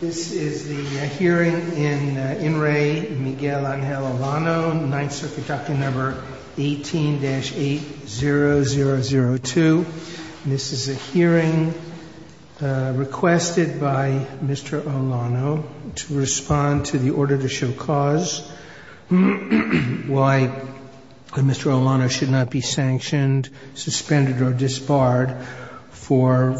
This is a hearing requested by Mr. Olano to respond to the order to show cause why Mr. Olano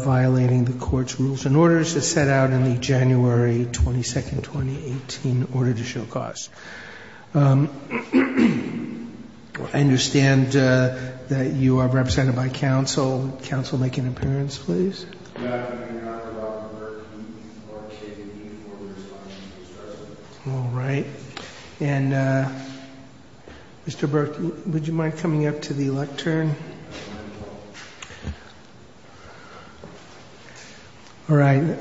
violated the court's rules and orders that set out in the January 22, 2018, order to show cause. I understand that you are represented by counsel. Counsel, make an appearance, please. Yes, I cannot allow the clerk to participate in any order to show cause. All right. And Mr. Burke, would you mind coming up to the lectern? All right.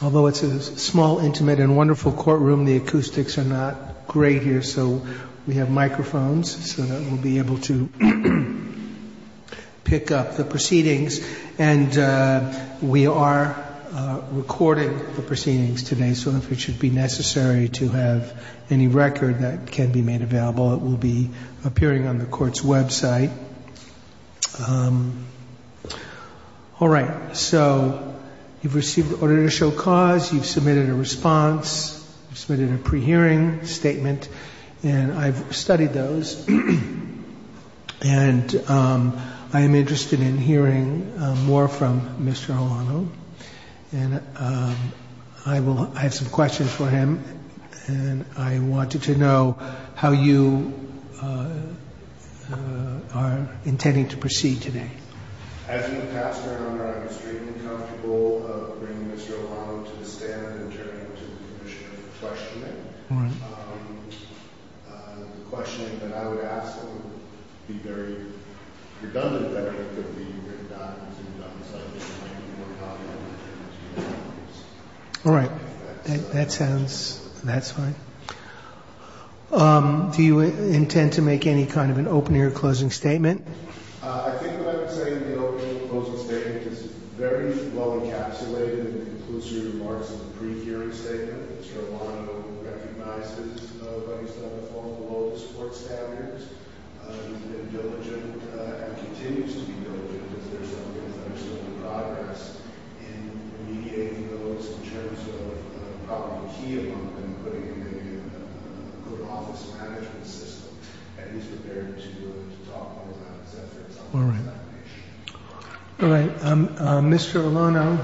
Although it's a small, intimate and wonderful courtroom, the acoustics are not great here, so we have microphones so that we'll be able to pick up the proceedings. And we are recording the proceedings today, so if it should be necessary to have any record that can be made available, it will be appearing on the court's website. All right. So you've received the order to show cause, you've submitted a response, you've submitted a pre-hearing statement, and I've studied those. And I'm interested in hearing more from Mr. Olano, and I will ask a question for him, and I wanted to know how you are intending to proceed today. I think perhaps Mr. Olano might be uncomfortable of bringing Mr. Olano to the stand and sharing his question. The question that I would ask him would be very redundant. All right. That sounds—that's fine. Do you intend to make any kind of an opening or closing statement? I think I would say that the opening or closing statement is very well encapsulated in the conclusive remarks of the pre-hearing statement. Mr. Olano recognizes that we still have all the world's sports talent. Mr. Olano,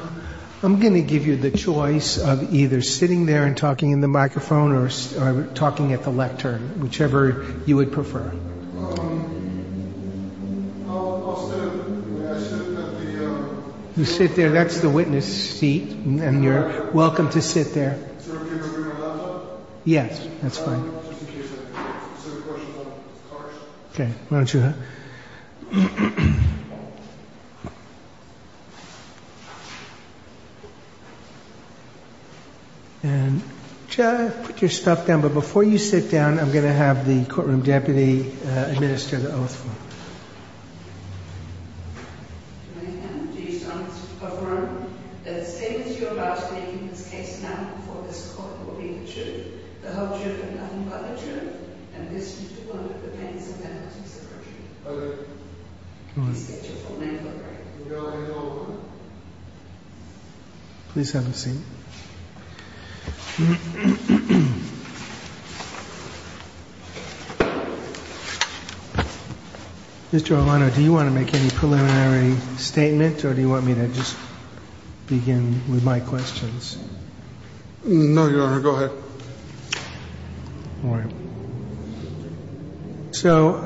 I'm going to give you the choice of either sitting there and talking in the microphone or talking at the lectern, whichever you would prefer. You sit there. That's the witness seat, and you're welcome to sit there. Yes, that's fine. Sir, the question is on the cards. Okay. Why don't you— And put your stuff down, but before you sit down, I'm going to have the courtroom deputy administer the oath. Please have a seat. Mr. Olano, do you want to make any preliminary statements, or do you want me to just begin with my questions? No, Your Honor. Go ahead. All right. So,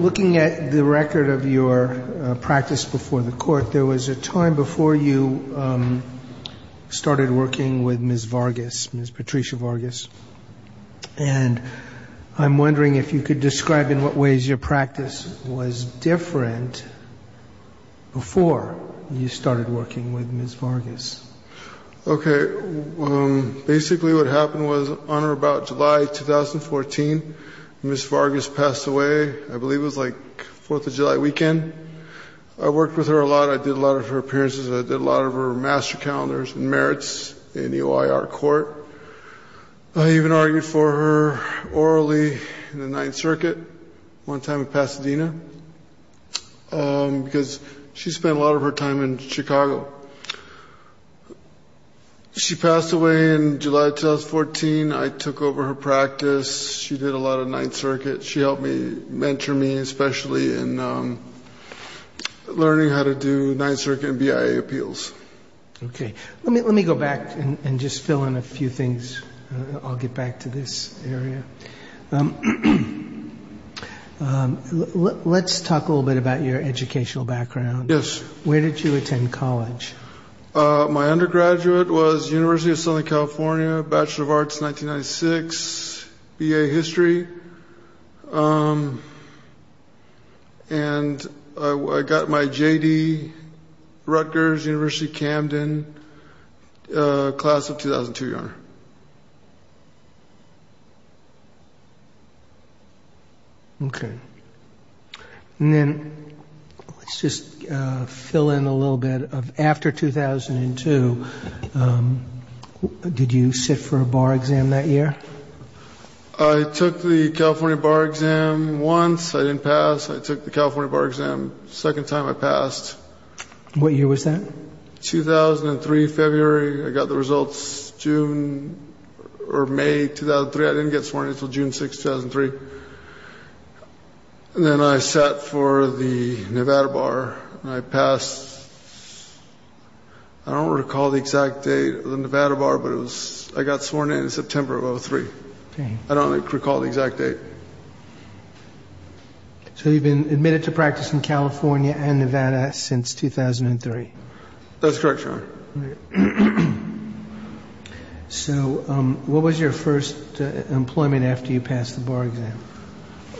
looking at the record of your practice before the court, there was a time before you started working with Ms. Vargas, Ms. Patricia Vargas. And I'm wondering if you could describe in what ways your practice was different before you started working with Ms. Vargas. Okay. Basically, what happened was, on or about July 2014, Ms. Vargas passed away. I believe it was like Fourth of July weekend. I worked with her a lot. I did a lot of her appearances. I did a lot of her master calendars and merits in EOIR court. I even argued for her orally in the Ninth Circuit one time in Pasadena because she spent a lot of her time in Chicago. She passed away in July 2014. I took over her practice. She did a lot of Ninth Circuit. She helped me, mentored me especially, in learning how to do Ninth Circuit and BIA appeals. Okay. Let me go back and just fill in a few things. I'll get back to this area. Let's talk a little bit about your educational background. Yes. Where did you attend college? My undergraduate was University of Southern California, Bachelor of Arts 1996, BA History. And I got my J.D. Rutgers, University of Camden, class of 2002, Your Honor. Okay. Let's just fill in a little bit. After 2002, did you sit for a bar exam that year? I took the California bar exam once. I didn't pass. I took the California bar exam the second time I passed. What year was that? 2003, February. I got the results June or May 2003. I didn't get sworn in until June 6, 2003. Then I sat for the Nevada bar and I passed. I don't recall the exact date of the Nevada bar, but I got sworn in in September of 2003. I don't recall the exact date. So you've been admitted to practice in California and Nevada since 2003. That's correct, Your Honor. So what was your first employment after you passed the bar exam?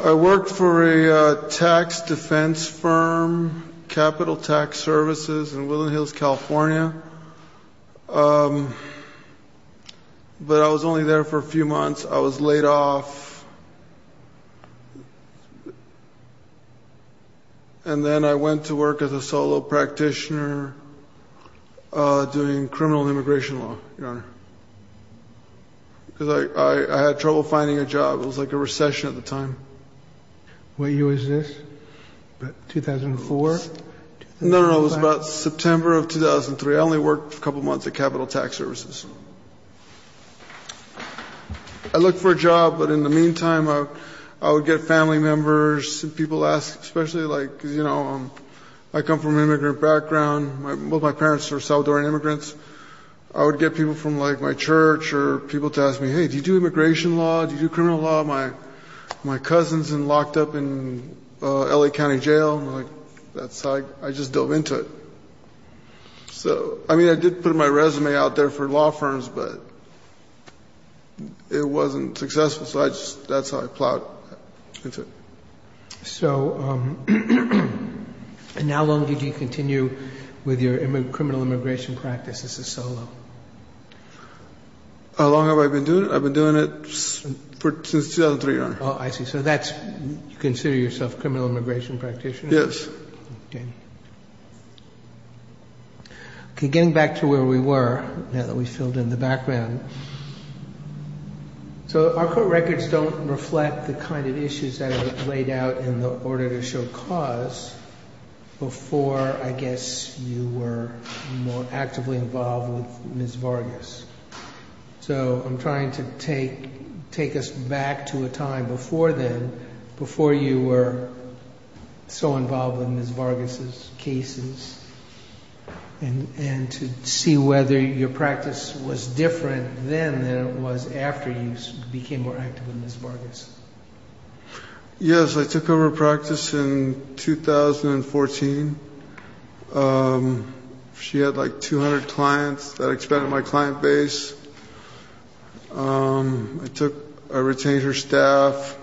I worked for a tax defense firm, Capital Tax Services in Willow Hills, California. But I was only there for a few months. I was laid off. And then I went to work as a solo practitioner doing criminal immigration law, Your Honor. Because I had trouble finding a job. It was like a recession at the time. What year was this? 2004? No, no. It was about September of 2003. I only worked a couple months at Capital Tax Services. I looked for a job, but in the meantime, I would get family members. People asked, especially, like, you know, I come from an immigrant background. Both my parents are Salvadoran immigrants. I would get people from, like, my church or people to ask me, Hey, do you do immigration law? Do you do criminal law? My cousin's been locked up in L.A. County Jail. I just dove into it. I mean, I did put my resume out there for law firms, but it wasn't successful. So that's how I plowed into it. So, and how long did you continue with your criminal immigration practice as a solo? How long have I been doing it? I've been doing it since 2003, Your Honor. Oh, I see. So that's, you consider yourself a criminal immigration practitioner? Yes. Okay, getting back to where we were, now that we've filled in the background. So our court records don't reflect the kind of issues that were laid out in the order to show cause before, I guess, you were more actively involved with Ms. Vargas. So I'm trying to take us back to a time before then, and to see whether your practice was different then than it was after you became more active with Ms. Vargas. Yes, I took over practice in 2014. She had like 200 clients that expanded my client base. I took, I retained her staff.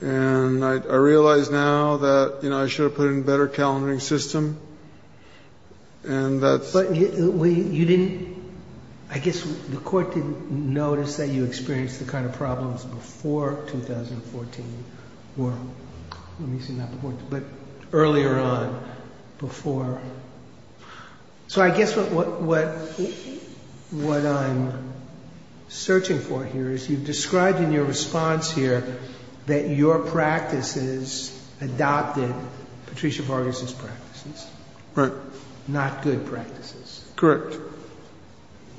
And I realize now that, you know, I should have put in a better calendaring system. And that's... But you didn't, I guess the court didn't notice that you experienced the kind of problems before 2014, or, let me see, not before, but earlier on, before. So I guess what I'm searching for here is you've described in your response here not good practices. Correct.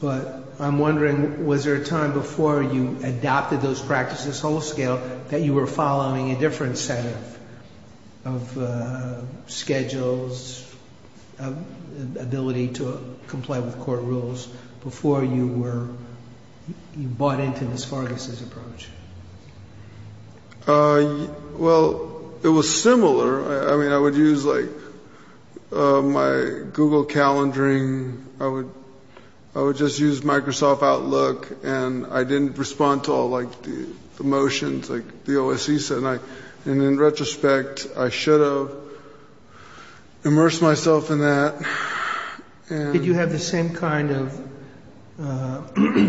But I'm wondering, was there a time before you adopted those practices on a scale that you were following a different set of schedules, ability to comply with court rules, before you were, you bought into Ms. Vargas' approach? Well, it was similar. I mean, I would use, like, my Google calendaring. I would just use Microsoft Outlook. And I didn't respond to all, like, the motions like the OSC said. And in retrospect, I should have immersed myself in that. Did you have the same kind of...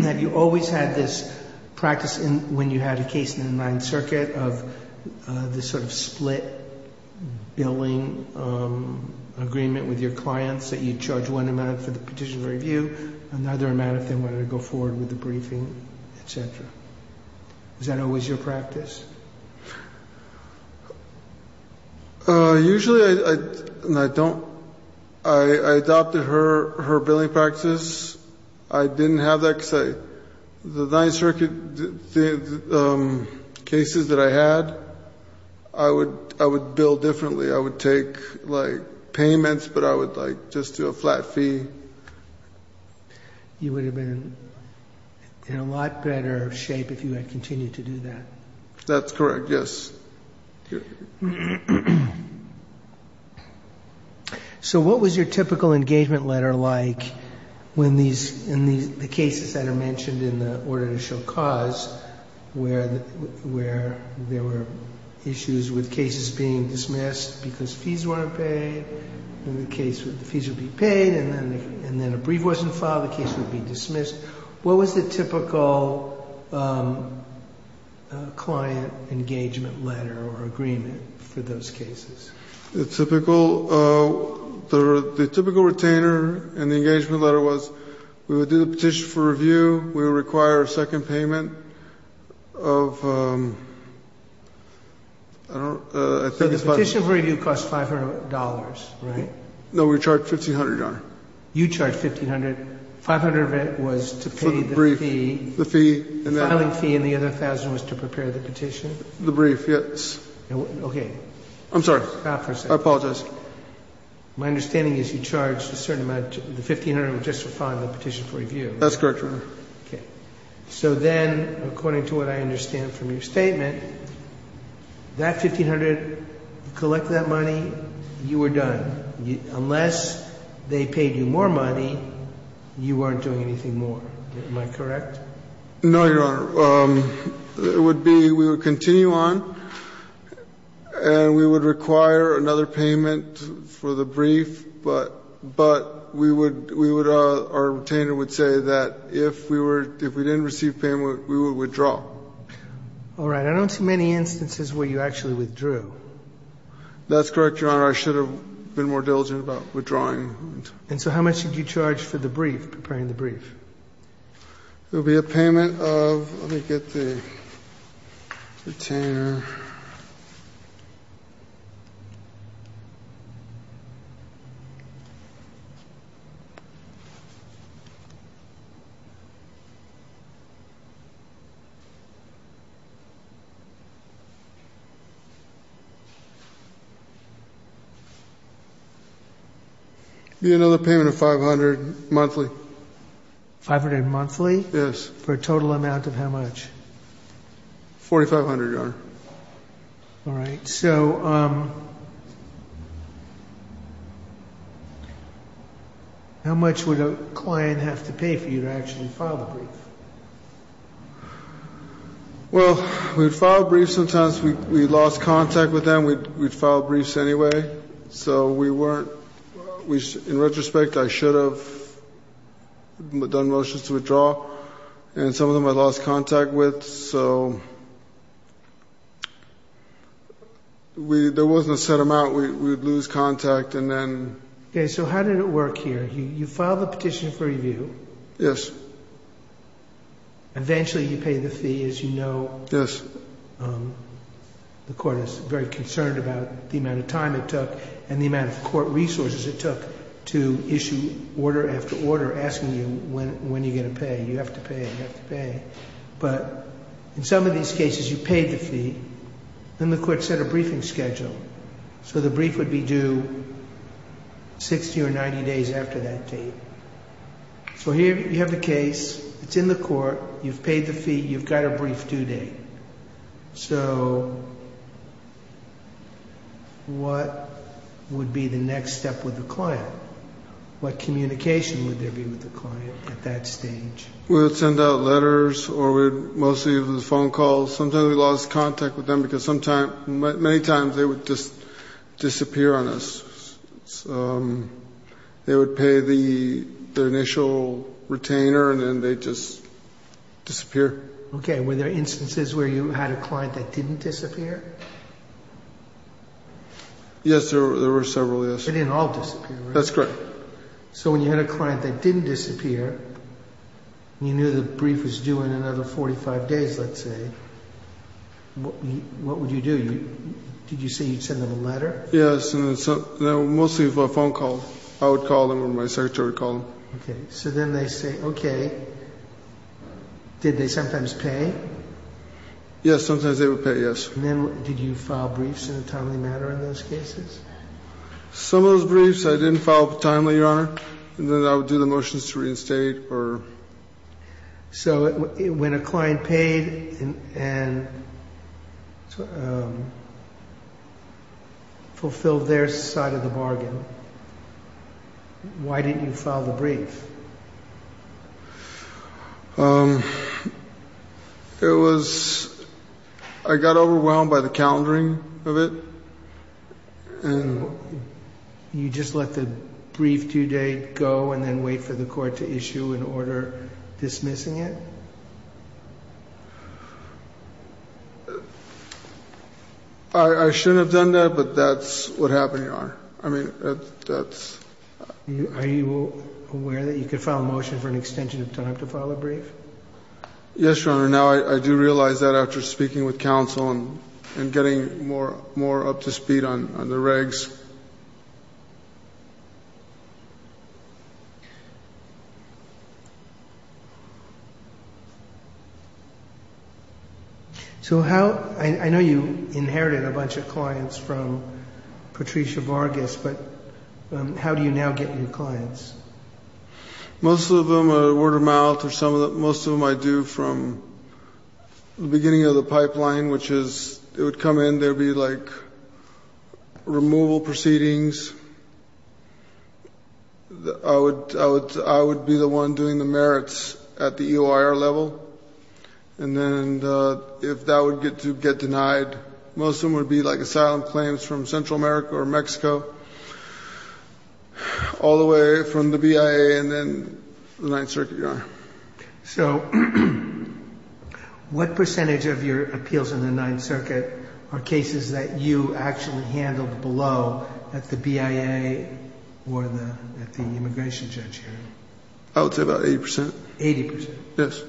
Have you always had this practice when you had a case in the Ninth Circuit of this sort of split billing agreement with your clients that you'd charge one amount for the petitioner review, another amount if they wanted to go forward with the briefing, et cetera? Was that always your practice? Usually, I don't... I adopted her billing practices. I didn't have that because the Ninth Circuit cases that I had, I would bill differently. I would take, like, payments, but I would, like, just do a flat fee. You would have been in a lot better shape if you had continued to do that. If that's correct, yes. So what was your typical engagement letter like when these... in the cases that are mentioned in the order to show cause where there were issues with cases being dismissed because fees weren't paid? In the case where the fees would be paid and then a brief wasn't filed, the case would be dismissed. What was the typical client engagement letter or agreement for those cases? The typical retainer and engagement letter was we would do the petition for review. We would require a second payment of... The petition for review cost $500, right? No, we charged $1,500. You charged $1,500. $500 of it was to pay the fee. The filing fee and the other $1,000 was to prepare the petition? The brief, yes. Okay. I'm sorry. I apologize. My understanding is you charged a certain amount. The $1,500 was just to file the petition for review. That's correct, Your Honor. Okay. So then, according to what I understand from your statement, that $1,500, you collected that money, you were done. Unless they paid you more money, you weren't doing anything more. Am I correct? No, Your Honor. It would be we would continue on and we would require another payment for the brief, but our retainer would say that if we didn't receive payment, we would withdraw. All right. I don't see many instances where you actually withdrew. That's correct, Your Honor. I should have been more diligent about withdrawing. And so how much did you charge for the brief, preparing the brief? It would be a payment of, let me get the retainer. It would be another payment of $500 monthly. $500 monthly? Yes. For a total amount of how much? $4,500, Your Honor. All right. So how much would a client have to pay for you to actually file a brief? Well, we filed briefs sometimes. We lost contact with them. We filed briefs anyway. So we weren't, in retrospect, I should have done motions to withdraw, and some of them I lost contact with. So there wasn't a set amount. We would lose contact, and then. Okay. So how did it work here? You filed a petition for review. Yes. Eventually you paid the fee, as you know. Yes. The court is very concerned about the amount of time it took and the amount of court resources it took to issue order after order, asking you when you're going to pay. You have to pay. You have to pay. But in some of these cases, you paid the fee, and the court set a briefing schedule. So the brief would be due 60 or 90 days after that date. So here you have a case. It's in the court. You've paid the fee. You've got a brief due date. So what would be the next step with the client? What communication would there be with the client at that stage? We would send out letters, or we'd mostly use the phone calls. Sometimes we lost contact with them because many times they would just disappear on us. They would pay the initial retainer, and then they'd just disappear. Okay. Were there instances where you had a client that didn't disappear? Yes, there were several, yes. They didn't all disappear, right? That's correct. So when you had a client that didn't disappear, and you knew the brief was due in another 45 days, let's say, what would you do? Did you say you'd send them a letter? Yes, mostly for a phone call. I would call them, or my secretary would call them. Okay. So then they'd say, okay. Did they sometimes pay? Yes, sometimes they would pay, yes. And then did you file briefs in a timely manner on those cases? Some of those briefs I didn't file timely, Your Honor. And then I would do the motions to reinstate. So when a client paid and fulfilled their side of the bargain, why didn't you file the brief? I got overwhelmed by the calendaring of it. And you just let the brief due date go and then wait for the court to issue an order dismissing it? I shouldn't have done that, but that's what happened, Your Honor. I mean, that's... Are you aware that you could file a motion for an extension of time to file a brief? Yes, Your Honor. For now, I do realize that after speaking with counsel and getting more up to speed on the regs. So how... I know you inherited a bunch of clients from Patricia Vargas, but how do you now get new clients? Most of them are word of mouth. Most of them I do from the beginning of the pipeline, which is it would come in. There would be, like, removal proceedings. I would be the one doing the merits at the EOIR level. And then if that would get denied, most of them would be, like, from the BIA and then the Ninth Circuit, Your Honor. So what percentage of your appeals in the Ninth Circuit are cases that you actually handled below, at the BIA or at the immigration judge? I would say about 80%. 80%? Yes.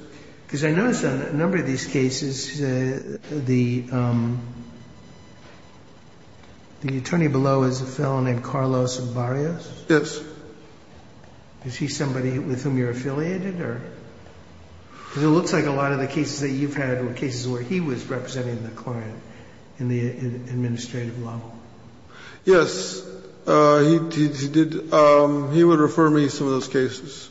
Because I noticed on a number of these cases, the attorney below is a fellow named Carlos Barrios? Yes. Is he somebody with whom you're affiliated? Because it looks like a lot of the cases that you've had are cases where he was representing the client in the administrative law. Yes. He would refer me to those cases.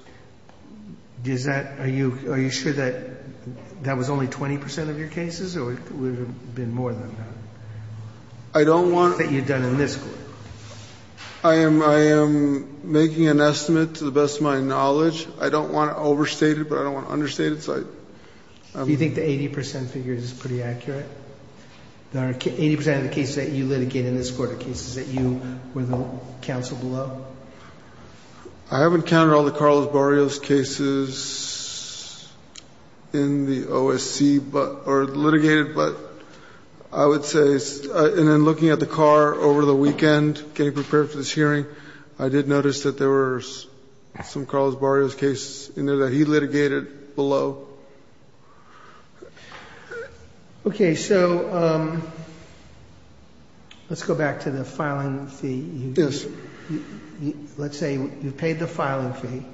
Are you sure that that was only 20% of your cases or would it have been more than that? I don't want... That you've done a list? I am making an estimate to the best of my knowledge. I don't want to overstate it, but I don't want to understate it. Do you think the 80% figure is pretty accurate? The 80% of the cases that you litigated in this court are cases that you counseled below? I haven't counted all the Carlos Barrios cases in the OSC or litigated, but I would say... And then looking at the car over the weekend, getting prepared for this hearing, I did notice that there were some Carlos Barrios cases in there that he litigated below. Okay, so let's go back to the filing fee. Yes. Let's say you paid the filing fee,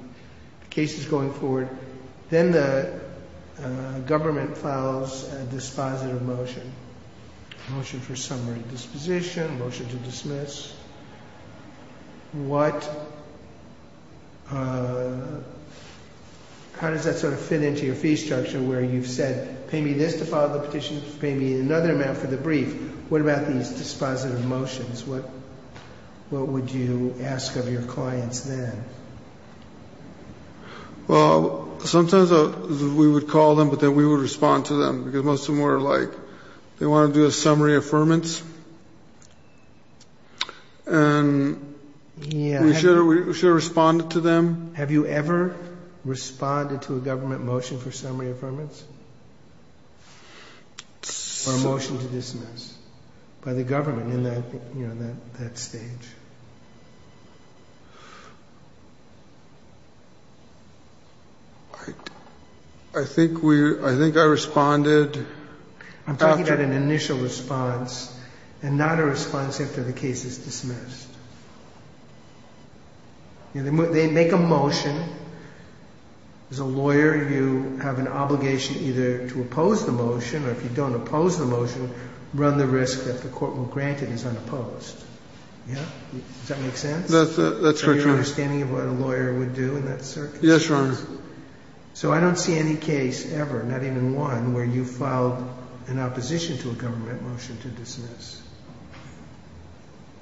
case is going forward, then the government files a dispositive motion. Motion for summary disposition, motion to dismiss. What... How does that sort of fit into your fee structure where you've said, pay me this to file the petition, pay me another amount for the brief. What about these dispositive motions? What would you ask of your clients then? Well, sometimes we would call them, but then we would respond to them. Because most of them were like, they want to do a summary affirmance. And we should have responded to them. Have you ever responded to a government motion for summary affirmance? Or a motion to dismiss by the government in that stage? I think I responded... I'm talking about an initial response and not a response after the case is dismissed. They make a motion. As a lawyer, you have an obligation either to oppose the motion, or if you don't oppose the motion, run the risk that the court will grant it is unopposed. Does that make sense? That's right. Are you understanding what a lawyer would do in that circumstance? Yes, Your Honor. So I don't see any case ever, not even one, where you file an opposition to a government motion to dismiss.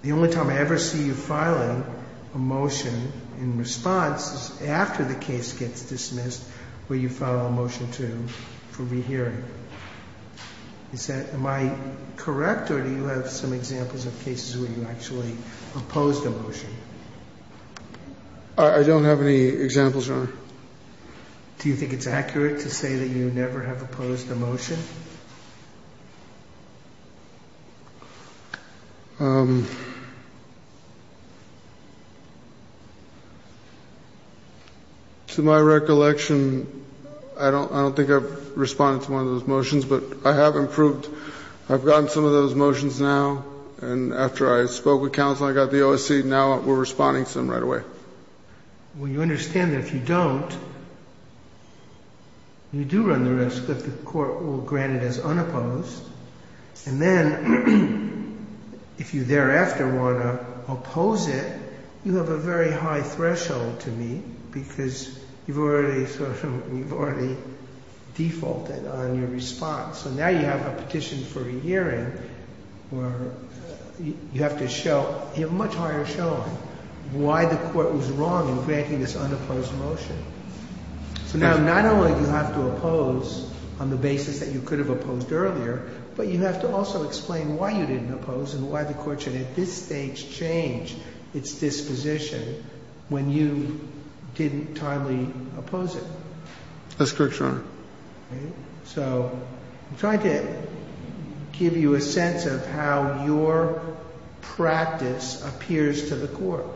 The only time I ever see you filing a motion in response is after the case gets dismissed, where you file a motion for rehearing. Am I correct, or do you have some examples of cases where you actually opposed a motion? I don't have any examples, Your Honor. Do you think it's accurate to say that you never have opposed a motion? To my recollection, I don't think I've responded to one of those motions, but I have improved. I've gotten some of those motions now, and after I spoke with counsel, I got the OAC, and now we're responding to them right away. Well, you understand that if you don't, you do run the risk that the court will grant it is unopposed. And then, if you thereafter want to oppose it, you have a very high threshold to meet, because you've already defaulted on your response. So now you have a petition for a hearing where you have to show, you have a much higher show-off, why the court was wrong in granting this unopposed motion. Now, not only do you have to oppose on the basis that you could have opposed earlier, but you have to also explain why you didn't oppose and why the court should at this stage change its disposition when you didn't timely oppose it. That's correct, Your Honor. Okay. So I'm trying to give you a sense of how your practice appears to the court.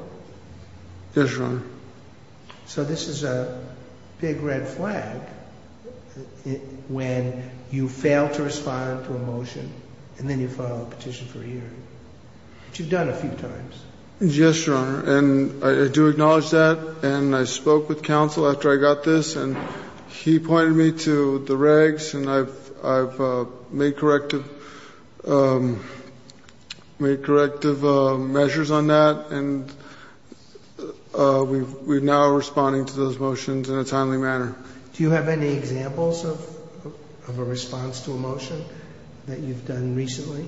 Yes, Your Honor. So this is a big red flag when you fail to respond to a motion, and then you file a petition for a hearing. Which you've done a few times. Yes, Your Honor, and I do acknowledge that, and I spoke with counsel after I got this, and he pointed me to the regs, and I've made corrective measures on that, and we're now responding to those motions in a timely manner. Do you have any examples of a response to a motion that you've done recently?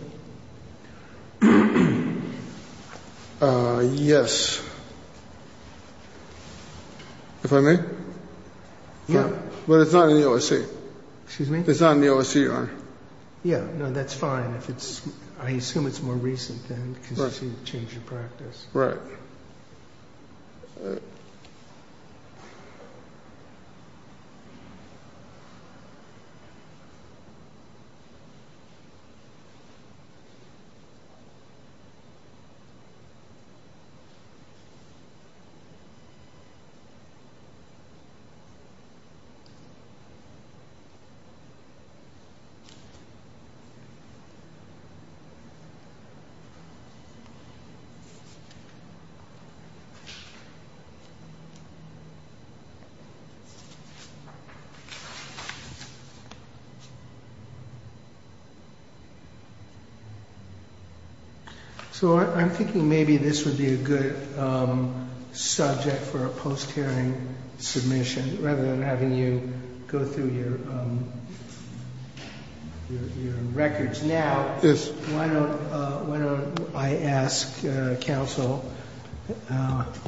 Yes. If I may? Yeah. But it's not in the OSC. Excuse me? It's not in the OSC, Your Honor. Yeah, no, that's fine. I assume it's more recent, then, because you've changed your practice. Correct. So I'm thinking maybe this would be a good subject for a post-hearing submission, rather than having you go through your records. Now, why don't I ask counsel,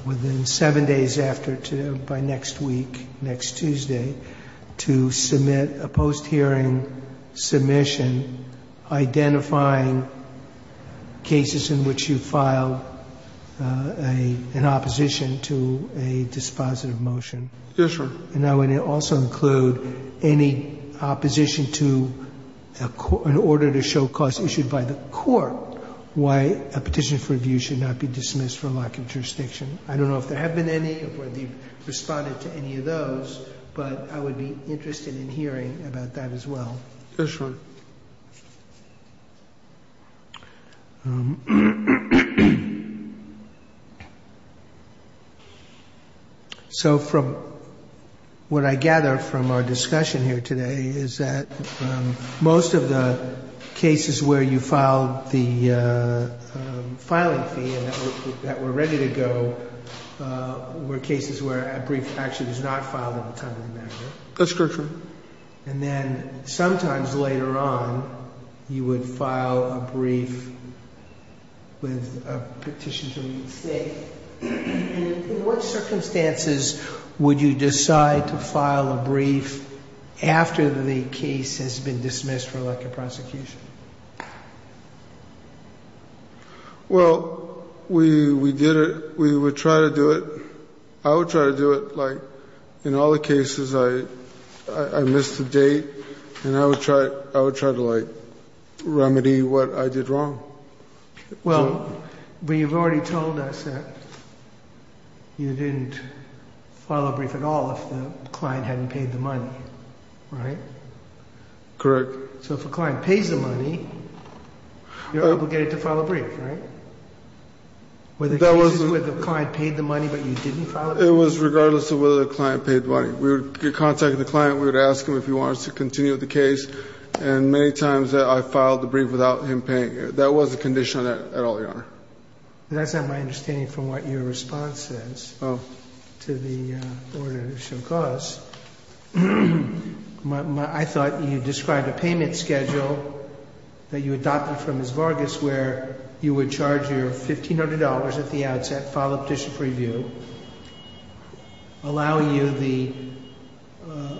within seven days after, by next week, next Tuesday, to submit a post-hearing submission identifying cases in which you filed an opposition to a dispositive motion. Yes, sir. And I want to also include any opposition in order to show cause issued by the court why a petition for review should not be dismissed from our jurisdiction. I don't know if there have been any, or if you've responded to any of those, but I would be interested in hearing about that as well. Yes, sir. So, from what I gather from our discussion here today, is that most of the cases where you filed the filing fee and that were ready to go were cases where a brief action was not filed at the time of the matter. Yes, sir. And then, sometimes later on, you would file a brief with a petition from the state. In what circumstances would you decide to file a brief after the main case has been dismissed from elective prosecution? Well, we did it. We would try to do it. I would try to do it. In all the cases, I missed a date, and I would try to remedy what I did wrong. Well, but you've already told us that you didn't file a brief at all if the client hadn't paid the money, right? Correct. So if the client paid the money, you're obligated to file a brief, right? Whether the client paid the money but you didn't file a brief. It was regardless of whether the client paid the money. We would get in contact with the client. We would ask him if he wanted us to continue the case. And many times, I filed a brief without him paying. That was a condition at all, Your Honor. That's not my understanding from what your response is to the order that shook us. I thought you described a payment schedule that you adopted from Ms. Vargas where you would charge her $1,500 at the outset, file a petition for review, allow you the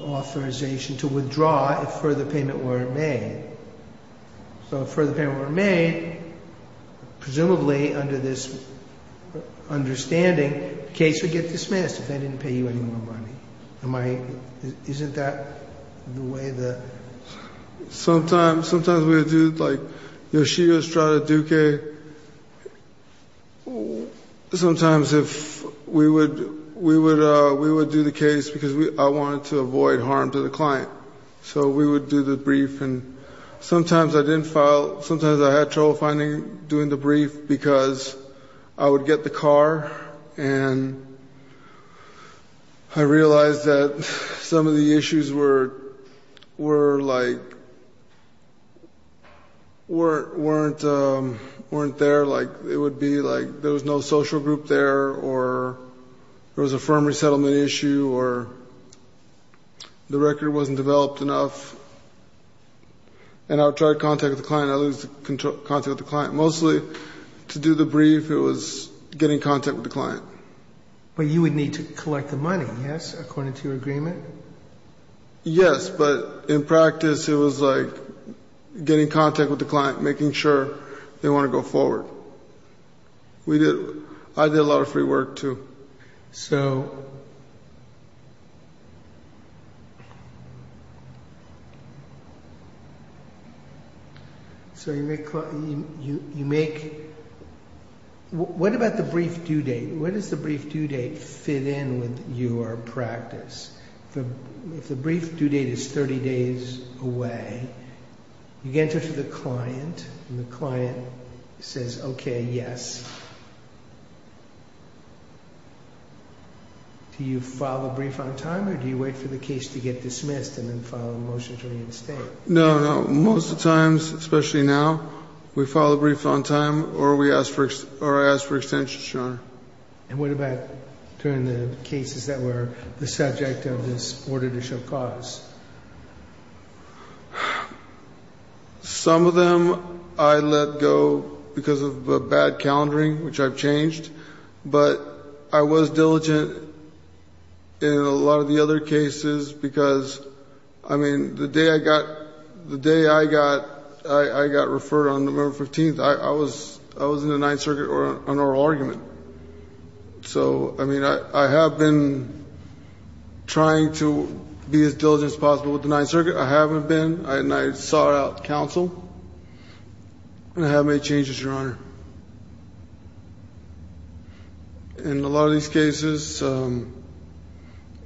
authorization to withdraw if further payment were made. So if further payment were made, presumably under this understanding, the case would get dismissed if they didn't pay you any more money. Isn't that the way the… Sometimes we would do the case because I wanted to avoid harm to the client. So we would do the brief. And sometimes I didn't file. Sometimes I had trouble doing the brief because I would get the car and I realized that some of the issues weren't there. It would be like there was no social group there or there was a firm resettlement issue or the record wasn't developed enough. And I would try to contact the client. I would lose contact with the client. Mostly to do the brief it was getting contact with the client. But you would need to collect the money, yes, according to your agreement? Yes, but in practice it was like getting contact with the client, making sure they want to go forward. I did a lot of free work too. So you make… What about the brief due date? Where does the brief due date fit in with your practice? If the brief due date is 30 days away, you get in touch with the client and the client says, okay, yes. Do you file the brief on time or do you wait for the case to get dismissed and then file a motion against it? No, no. Most of the times, especially now, we file a brief on time or I ask for extension. Sure. And what about during the cases that were the subject of this order to show cause? Some of them I let go because of bad calendaring, which I've changed. But I was diligent in a lot of the other cases because, I mean, the day I got referred on November 15th, I was in the Ninth Circuit on oral argument. So, I mean, I have been trying to be as diligent as possible with the Ninth Circuit. I haven't been. I sought out counsel. I haven't made changes, Your Honor. In a lot of these cases,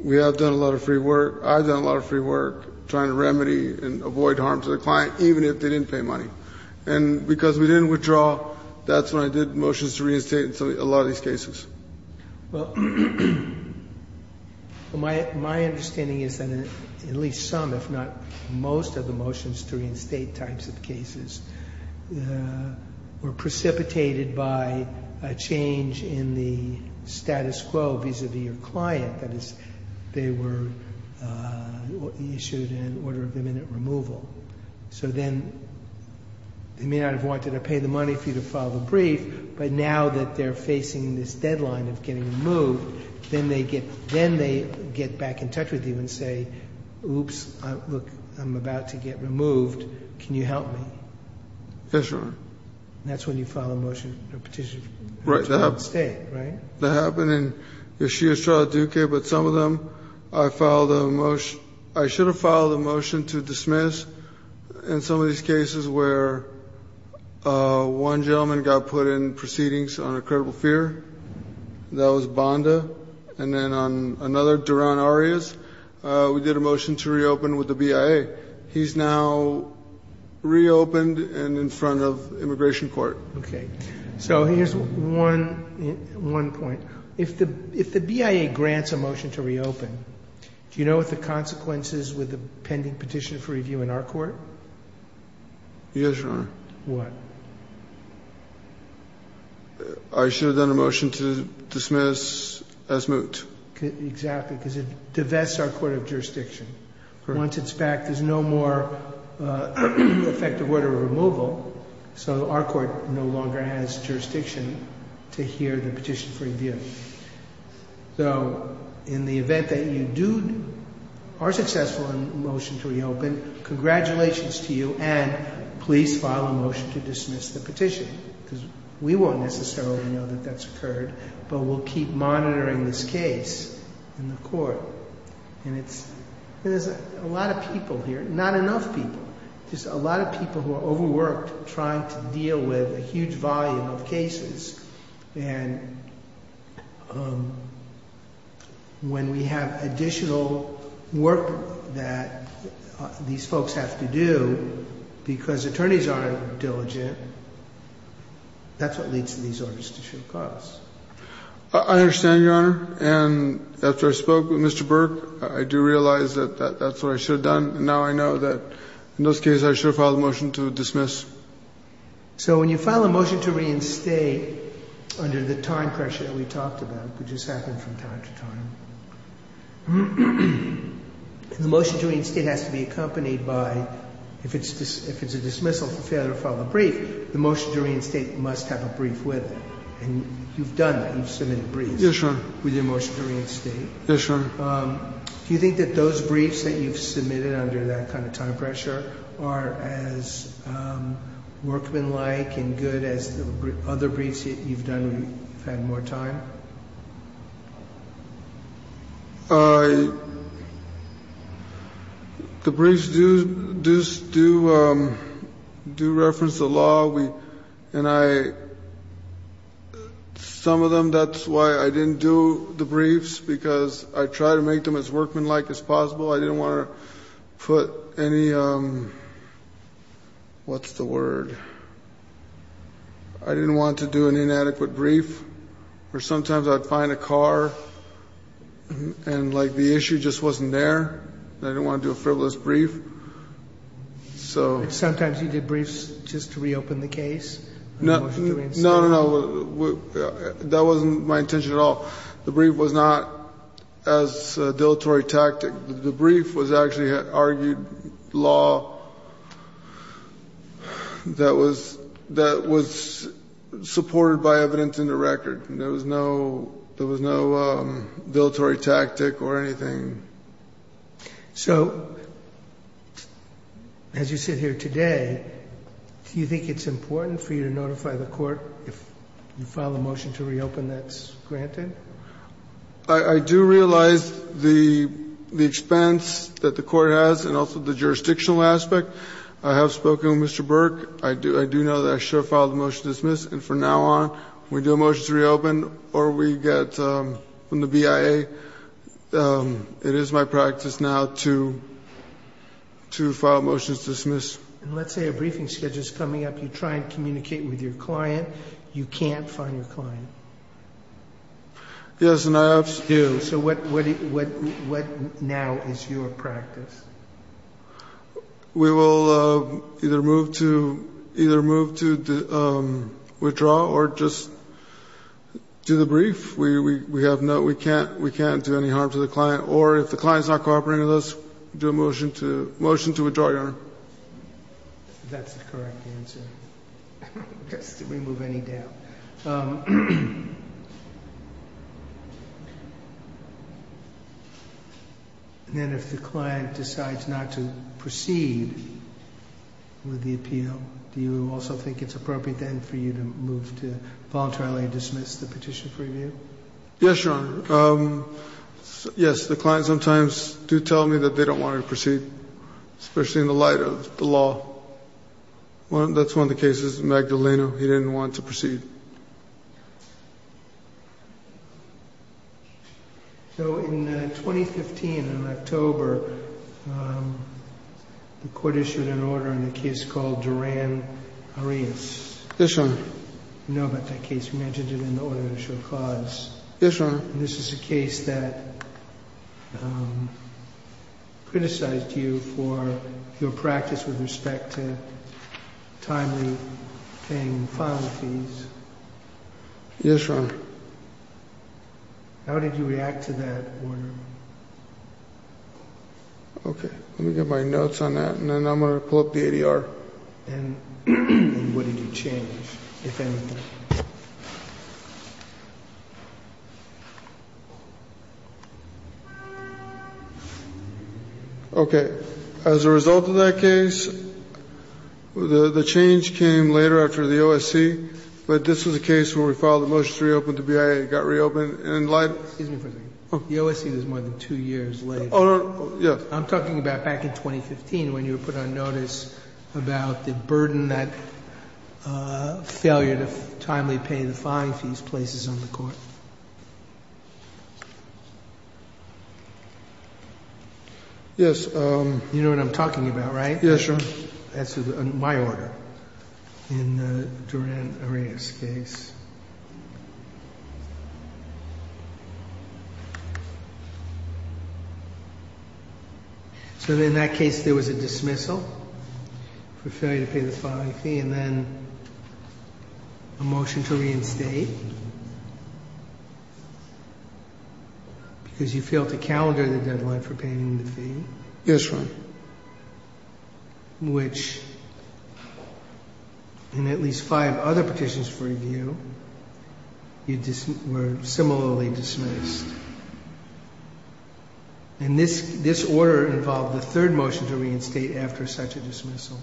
we have done a lot of free work. I've done a lot of free work trying to remedy and avoid harm to the client, even if they didn't pay money. And because we didn't withdraw, that's when I did motions to reinstate in a lot of these cases. Well, my understanding is that at least some, if not most, of the motions to reinstate types of cases were precipitated by a change in the status quo vis-à-vis your client as they were issued in order of imminent removal. So then, you may not have wanted to pay the money for you to file the brief, but now that they're facing this deadline of getting removed, then they get back in touch with you and say, Oops, I'm about to get removed. Can you help me? Yes, Your Honor. And that's when you file a motion of petition to reinstate, right? That happened in this year's trial in the U.K., but some of them I filed a motion. I should have filed a motion to dismiss in some of these cases where one gentleman got put in proceedings under credible fear. That was Bonda. And then on another, Daron Arias, we did a motion to reopen with the BIA. He's now reopened and in front of immigration court. Okay. So here's one point. If the BIA grants a motion to reopen, do you know what the consequence is with the pending petition for review in our court? Yes, Your Honor. What? I should have done a motion to dismiss as moot. Exactly, because it divests our court of jurisdiction. Once it's back, there's no more effective order of removal, so our court no longer has jurisdiction to hear the petition for review. So in the event that you are successful in the motion to reopen, congratulations to you and please file a motion to dismiss the petition because we won't necessarily know that that's occurred, but we'll keep monitoring this case in the court. And there's a lot of people here, not enough people, just a lot of people who are overworked trying to deal with a huge volume of cases. And when we have additional work that these folks have to do because attorneys aren't diligent, that's what leads to these orders that should cause. I understand, Your Honor. And after I spoke with Mr. Burke, I do realize that that's what I should have done. Now I know that in this case I should have filed a motion to dismiss. So when you file a motion to reinstate under the time pressure that we talked about, which has happened from time to time, the motion to reinstate has to be accompanied by, if it's a dismissal, if you fail to file a brief, the motion to reinstate must have a brief with. And you've done that, you've submitted briefs. Yes, Your Honor. With the motion to reinstate. Yes, Your Honor. Do you think that those briefs that you've submitted under that kind of time pressure are as workmanlike and good as other briefs that you've done that have more time? The briefs do reference the law. Some of them, that's why I didn't do the briefs, because I tried to make them as workmanlike as possible. I didn't want to put any, what's the word? I didn't want to do an inadequate brief. Or sometimes I'd find a car and, like, the issue just wasn't there. I didn't want to do a frivolous brief. Sometimes you did briefs just to reopen the case? No, no, no. That wasn't my intention at all. The brief was not as a dilatory tactic. The brief was actually an argued law that was supported by evidence in the record. There was no dilatory tactic or anything. So, as you sit here today, do you think it's important for you to notify the court if you file a motion to reopen that's granted? I do realize the expense that the court has and also the jurisdictional aspect. I have spoken with Mr. Burke. I do know that I should have filed a motion to dismiss, and from now on, when we do a motion to reopen or we get from the BIA, it is my practice now to file a motion to dismiss. Let's say a briefing schedule is coming up. You try to communicate with your client. You can't find your client. Yes, and I do. So what now is your practice? We will either move to withdraw or just do the brief. We have no, we can't do any harm to the client, or if the client is not cooperating with us, do a motion to withdraw. That's the correct answer, to remove any doubt. Okay. And if the client decides not to proceed with the appeal, do you also think it's appropriate then for you to move to voluntarily dismiss the petition for review? Yes, Your Honor. Yes, the clients sometimes do tell me that they don't want to proceed, especially in the light of the law. Well, that's one of the cases, Magdaleno. He didn't want to proceed. So in 2015, in October, the court issued an order in a case called Duran-Arias. Yes, Your Honor. You know about that case. You mentioned it in the order to issue a clause. Yes, Your Honor. This is a case that criticized you for your practice with respect to timely paying the final fees. Yes, Your Honor. How did you react to that order? Okay. Let me get my notes on that, and then I'm going to pull up the ADR. And what did you change, if anything? Okay. As a result of that case, the change came later after the OSC. But this is a case where we filed a motion to reopen the BIA. It got reopened. Excuse me for a second. The OSC was more than two years late. Oh, yeah. I'm talking about back in 2015 when you put on notice about the burden that failure to timely pay the fines in places on the court. Yes. You know what I'm talking about, right? Yes, Your Honor. That's my order in the Duran-Arena case. So in that case, there was a dismissal for failure to pay the fine fee, and then a motion to reinstate. Because you failed to calendar the deadline for paying the fee. This one. Which, in at least five other petitions for review, were similarly dismissed. And this order involved a third motion to reinstate after such a dismissal.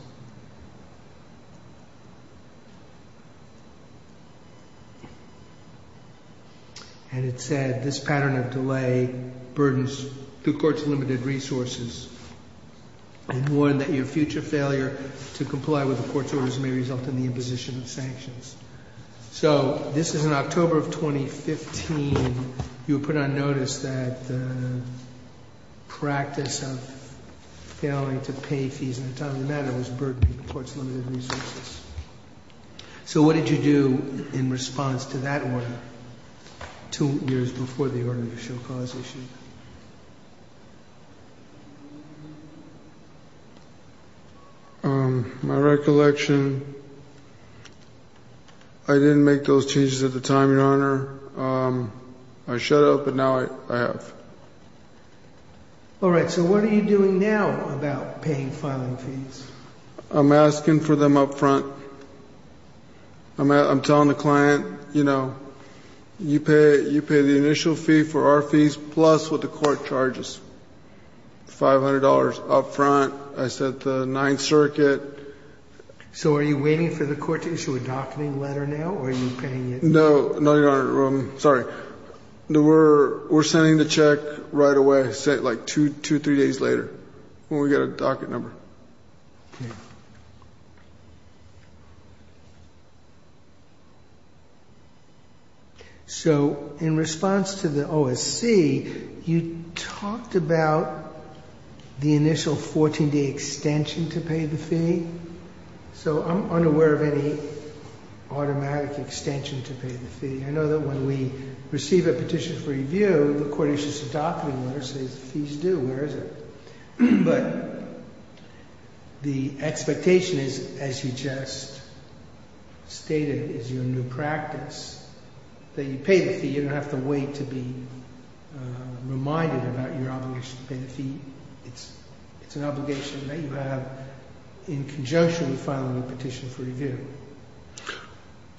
And it said, this pattern of delay burdens the court's limited resources. I warn that your future failure to comply with the court's orders may result in the imposition of sanctions. So this is in October of 2015. You put on notice that the practice of failing to pay fees in a timely manner was burdened the court's limited resources. So what did you do in response to that order two years before the earlier show cause issue? My recollection, I didn't make those changes at the time, Your Honor. I showed up, and now I have. All right. So what are you doing now about paying filing fees? I'm asking for them up front. I'm telling the client, you know, you pay the initial fee for our fees, plus what the court charges. $500 up front. I sent the Ninth Circuit. So are you waiting for the court to issue a docketing letter now, or are you paying it? No, Your Honor. Sorry. We're sending the check right away, like two, three days later, when we get a docket number. Okay. So in response to the OSC, you talked about the initial 14-day extension to pay the fee. So I'm unaware of any automatic extension to pay the fee. I know that when we receive a petition for review, the court issues a docketing letter that says fees due. Where is it? But the expectation, as you just stated, is your new practice, that you pay the fee. You don't have to wait to be reminded about your obligation to pay the fee. It's an obligation that you have in conjunction with filing a petition for review.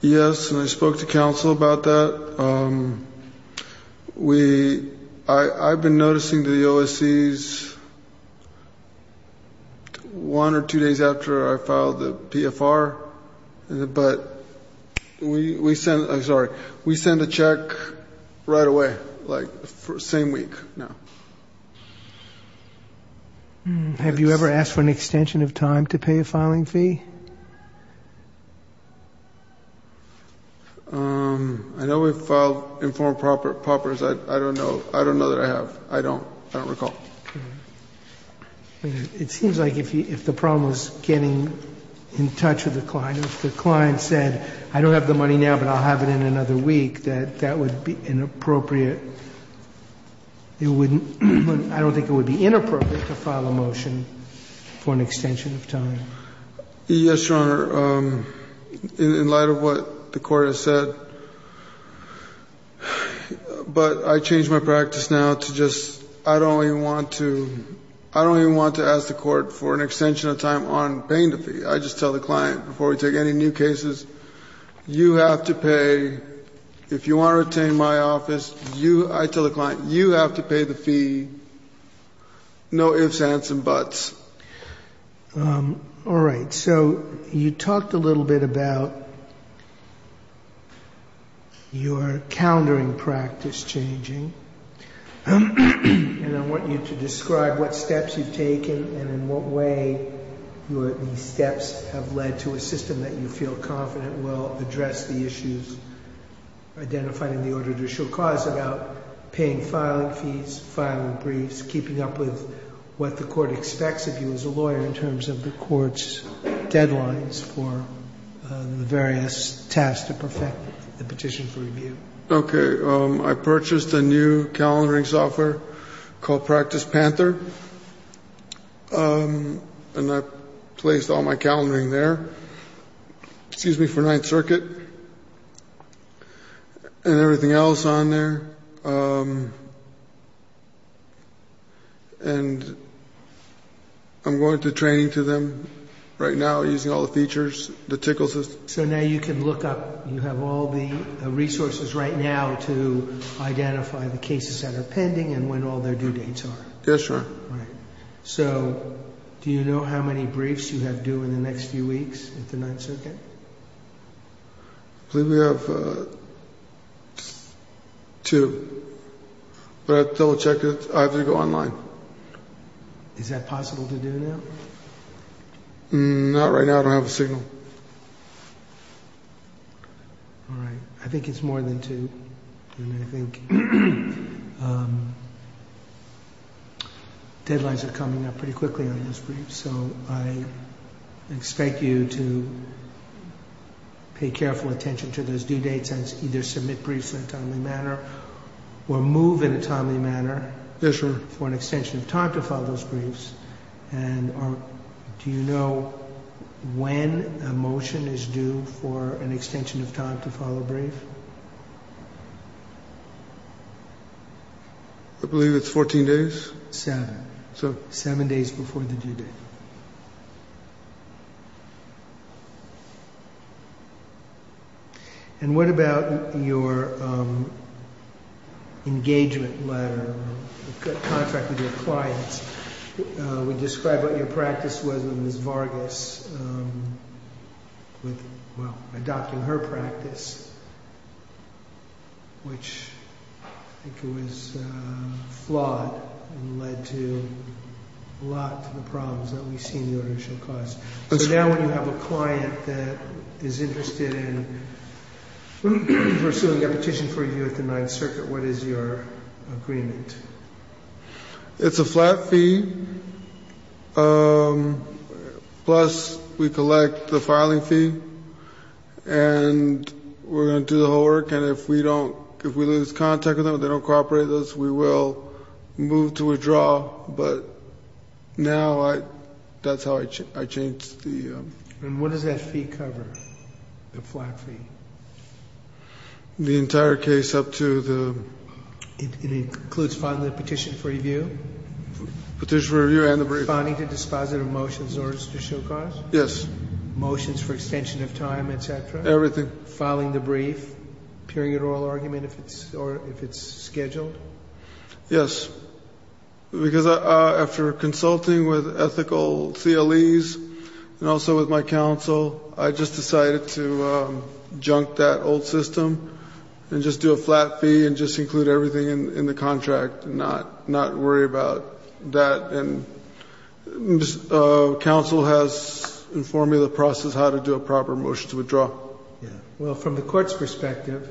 Yes, and I spoke to counsel about that. I've been noticing the OSCs one or two days after I filed the PFR. But we send a check right away, like the same week. Have you ever asked for an extension of time to pay a filing fee? I know we've filed informed propers. I don't know that I have. I don't recall. It seems like if the problem was getting in touch with the client, if the client said, I don't have the money now, but I'll have it in another week, that that would be inappropriate. I don't think it would be inappropriate to file a motion for an extension of time. Yes, Your Honor. In light of what the court has said, but I changed my practice now to just, I don't even want to ask the court for an extension of time on paying the fee. I just tell the client, before we take any new cases, you have to pay, if you want to retain my office, I tell the client, you have to pay the fee, no ifs, ands, and buts. All right. So you talked a little bit about your calendaring practice changing. And I want you to describe what steps you've taken and in what way your steps have led to a system that you feel confident will address the issues identified in the order to show cause about paying filing fees, filing briefs, keeping up with what the court expects of you as a lawyer in terms of the court's deadlines for the various tasks that affect the petition for review. Okay. I purchased a new calendaring software called Practice Panther, and I placed all my calendaring there. Excuse me, for Ninth Circuit and everything else on there. And I'm going through training to them right now using all the features, the tickle system. So now you can look up, you have all the resources right now to identify the cases that are pending and when all their due dates are. Yes, sir. All right. So do you know how many briefs you have due in the next few weeks at the Ninth Circuit? I believe we have two. But they'll check it. I have to go online. Is that possible to do now? Not right now. I don't have the signal. All right. I think it's more than two. I think deadlines are coming up pretty quickly on these briefs, so I expect you to pay careful attention to those due dates and either submit briefs in a timely manner or move in a timely manner for an extension of time to follow those briefs. And do you know when a motion is due for an extension of time to follow a brief? I believe it's 14 days. Seven. So seven days before the due date. And what about your engagement letter that contracted your clients? It described what your practice was with Ms. Vargas. Well, I docked in her practice, which I think was flawed and led to a lot of the problems that we had. So now when you have a client that is interested in pursuing their petition for review at the Ninth Circuit, what is your agreement? It's a flat fee, plus we collect the filing fee, and we're going to do the whole work. And if we lose contact with them, if they don't cooperate with us, we will move to withdraw. But now that's how I changed the… And what does that fee cover, the flat fee? The entire case up to the… It includes filing the petition for review? Petition for review and the brief. Filing the dispositive motions or official costs? Yes. Motions for extension of time, et cetera? Everything. Filing the brief? Period or oral argument if it's scheduled? Yes. Because after consulting with ethical CLEs and also with my counsel, I just decided to junk that old system and just do a flat fee and just include everything in the contract and not worry about that. And counsel has informed me of the process how to do a proper motion to withdraw. Well, from the court's perspective,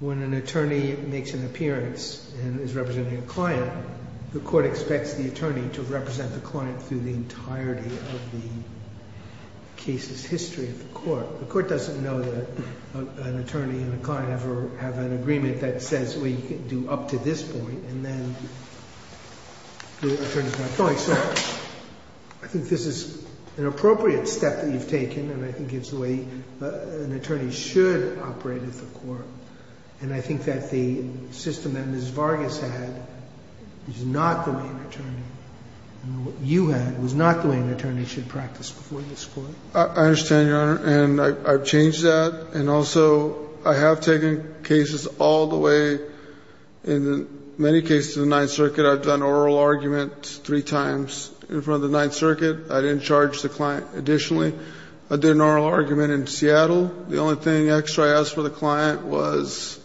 when an attorney makes an appearance and is representing a client, the court expects the attorney to represent the client through the entirety of the case's history at the court. The court doesn't know that an attorney and a client have an agreement that says we do up to this point and then do it in terms of my filings. I think this is an appropriate step that you've taken. And I think it's the way an attorney should operate at the court. And I think that the system that Ms. Vargas had is not good for an attorney. And what you had was not the way an attorney should practice before this court. I understand, Your Honor. And I've changed that. And also, I have taken cases all the way. In many cases in the Ninth Circuit, I've done oral arguments three times in front of the Ninth Circuit. I didn't charge the client additionally. I did an oral argument in Seattle. The only thing extra I asked for the client was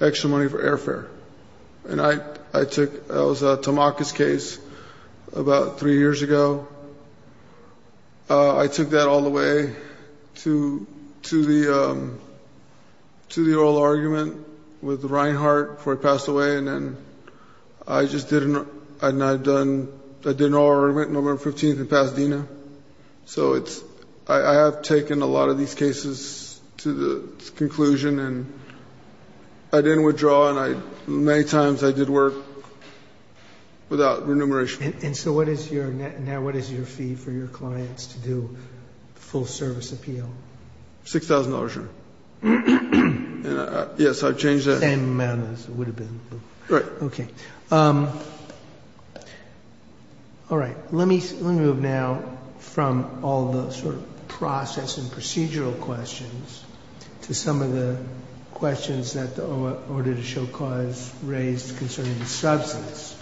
extra money for airfare. And that was Tamaka's case about three years ago. I took that all the way to the oral argument with Reinhart before he passed away. And then I did an oral argument November 15th in Pasadena. So I have taken a lot of these cases to the conclusion. And I didn't withdraw. And many times I did work without remuneration. And so now what is your fee for your clients to do a full service appeal? $6,000, Your Honor. Yes, I've changed that. It would have been removed. All right. Okay. All right. Let me move now from all the sort of process and procedural questions to some of the questions that the auditor show clause raised concerning the substance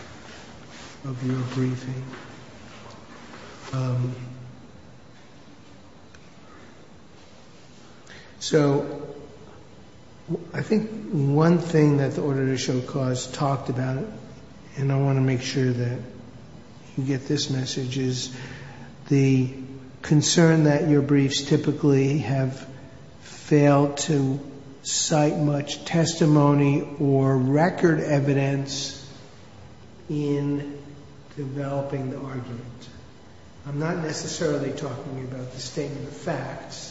of your briefing. So I think one thing that the auditor show clause talked about, and I want to make sure that you get this message, is the concern that your briefs typically have failed to cite much testimony or record evidence in developing the argument. I'm not necessarily talking about the statement of facts.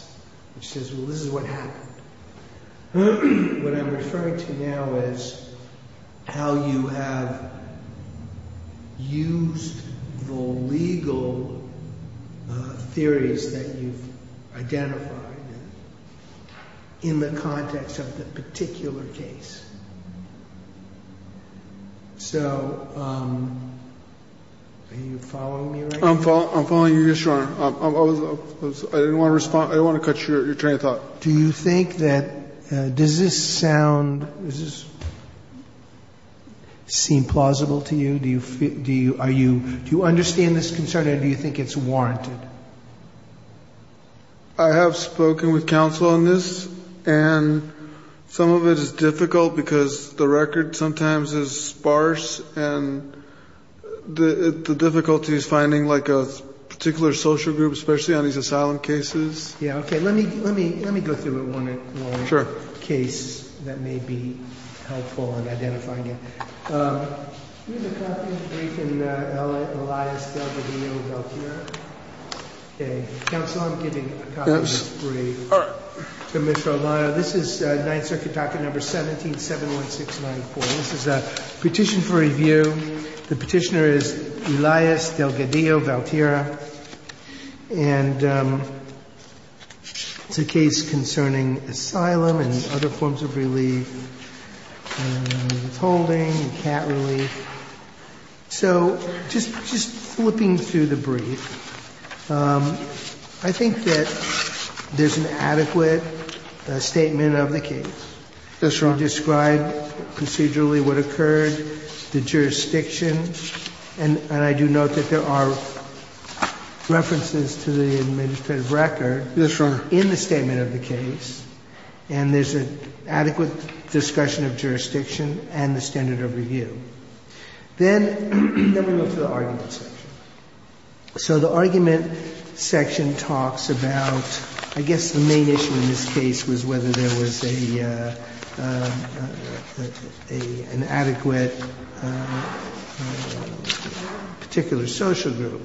This is what happened. What I'm referring to now is how you have used the legal theories that you've identified in the context of the particular case. So are you following me right now? I'm following you, Your Honor. I didn't want to cut your train of thought. Do you think that does this sound, does this seem plausible to you? Do you understand this concern, or do you think it's warranted? I have spoken with counsel on this, and some of it is difficult because the record sometimes is sparse, and the difficulty is finding like a particular social group, especially on these asylum cases. Okay, let me go through one more case that may be helpful in identifying it. Here's a copy of briefs in Elias, Delgadillo, and Valterra. Counsel, I'm giving copies of briefs to Mr. O'Meara. This is 9th Circuit document number 1771694. This is a petition for review. The petitioner is Elias, Delgadillo, and Valterra. And it's a case concerning asylum and other forms of relief, and holding, and cat relief. So just flipping through the brief, I think that there's an adequate statement of the case. It's described procedurally what occurred, the jurisdiction, and I do note that there are references to the administrative record. Those are in the statement of the case, and there's an adequate discussion of jurisdiction and the standard of review. Then let me go to the argument section. So the argument section talks about, I guess the main issue in this case was whether there was an adequate particular social group.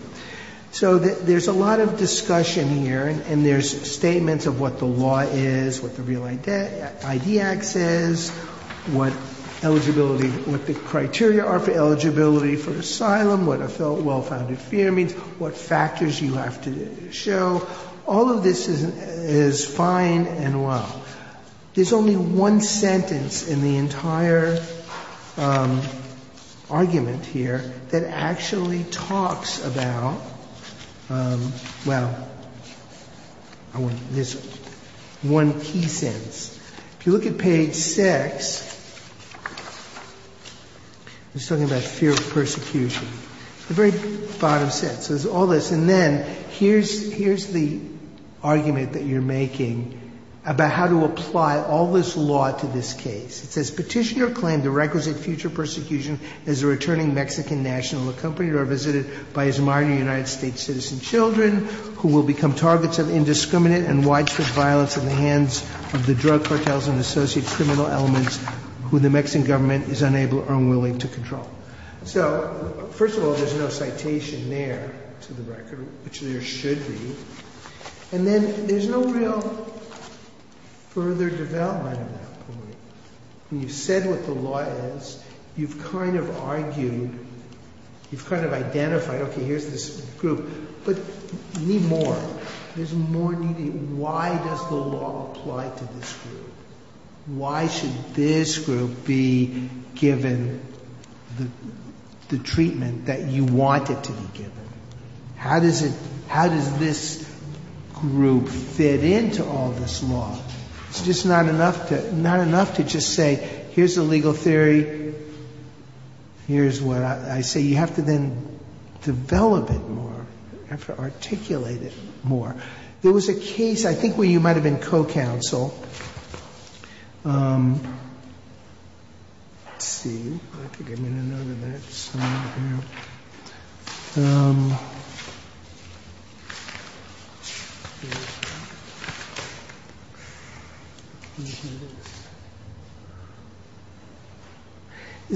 So there's a lot of discussion here, and there's statements of what the law is, what the real IDX is, what the criteria are for eligibility for asylum, what a well-founded fear means, what factors you have to show. All of this is fine and well. There's only one sentence in the entire argument here that actually talks about, well, there's one key sentence. If you look at page six, it's talking about fear of persecution. The very bottom sentence, there's all this. And then here's the argument that you're making about how to apply all this law to this case. It says, Petitioner claimed the records of future persecution as a returning Mexican national accompanied or visited by his minor United States citizen children, who will become targets of indiscriminate and widespread violence at the hands of the drug cartels and associated criminal elements who the Mexican government is unable or unwilling to control. So first of all, there's no citation there to the record, which there should be. And then there's no real further development of that. When you said with the wireless, you've kind of argued, you've kind of identified, okay, here's this group, but you need more. There's more needing. Why does the law apply to this group? Why should this group be given the treatment that you want it to be given? How does this group fit into all this law? It's just not enough to just say, here's the legal theory, here's what I say. You have to then develop it more. You have to articulate it more. There was a case, I think, where you might have been co-counsel. Let's see. There's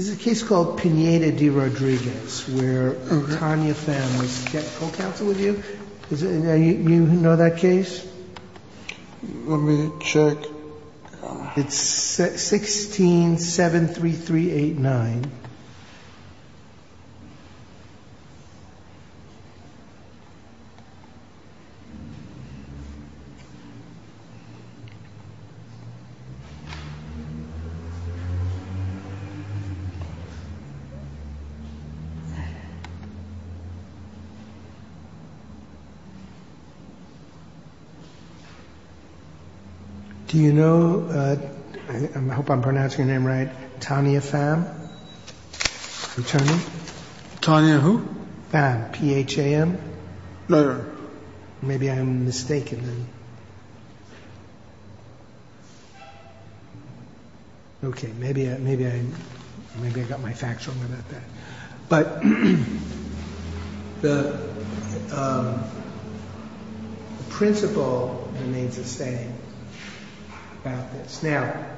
a case called Pineda de Rodriguez, where a Rania family gets co-counsel with you. Do you know that case? Let me check. It's 16-73389. Do you know, I hope I'm pronouncing your name right, Tanya Pham? Attorney? Tanya who? Pham, P-H-A-M. No, no. Maybe I'm mistaken. Okay, maybe I got my facts wrong. But the principle remains the same about this. Now,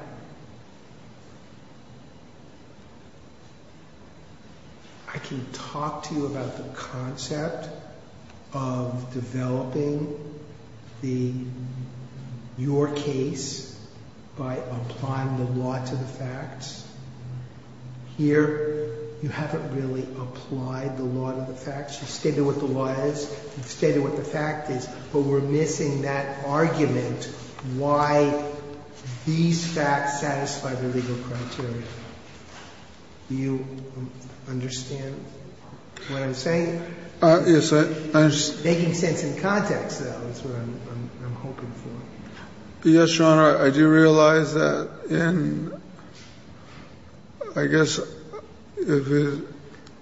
I can talk to you about the concept of developing your case by applying the law to the facts. Here, you haven't really applied the law to the facts. You've stated what the law is. You've stated what the fact is. But we're missing that argument, why these facts satisfy the legal criteria. Do you understand what I'm saying? Yes, I understand. Making sense in context, though, is what I'm hoping for. Yes, John, I do realize that in, I guess,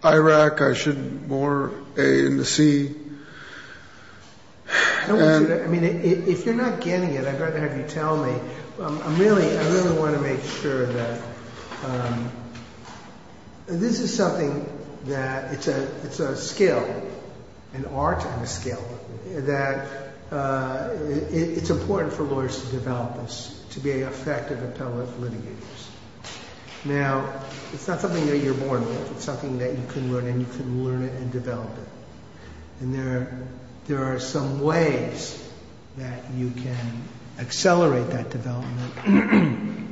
Iraq, I should bore A in the C. I mean, if you're not getting it, I'd rather have you tell me. I really want to make sure that this is something that it's a skill, an art skill, that it's important for lawyers to develop this, to be effective appellate litigators. Now, it's not something that you're born with. It's something that you can learn, and you can learn it and develop it. And there are some ways that you can accelerate that development.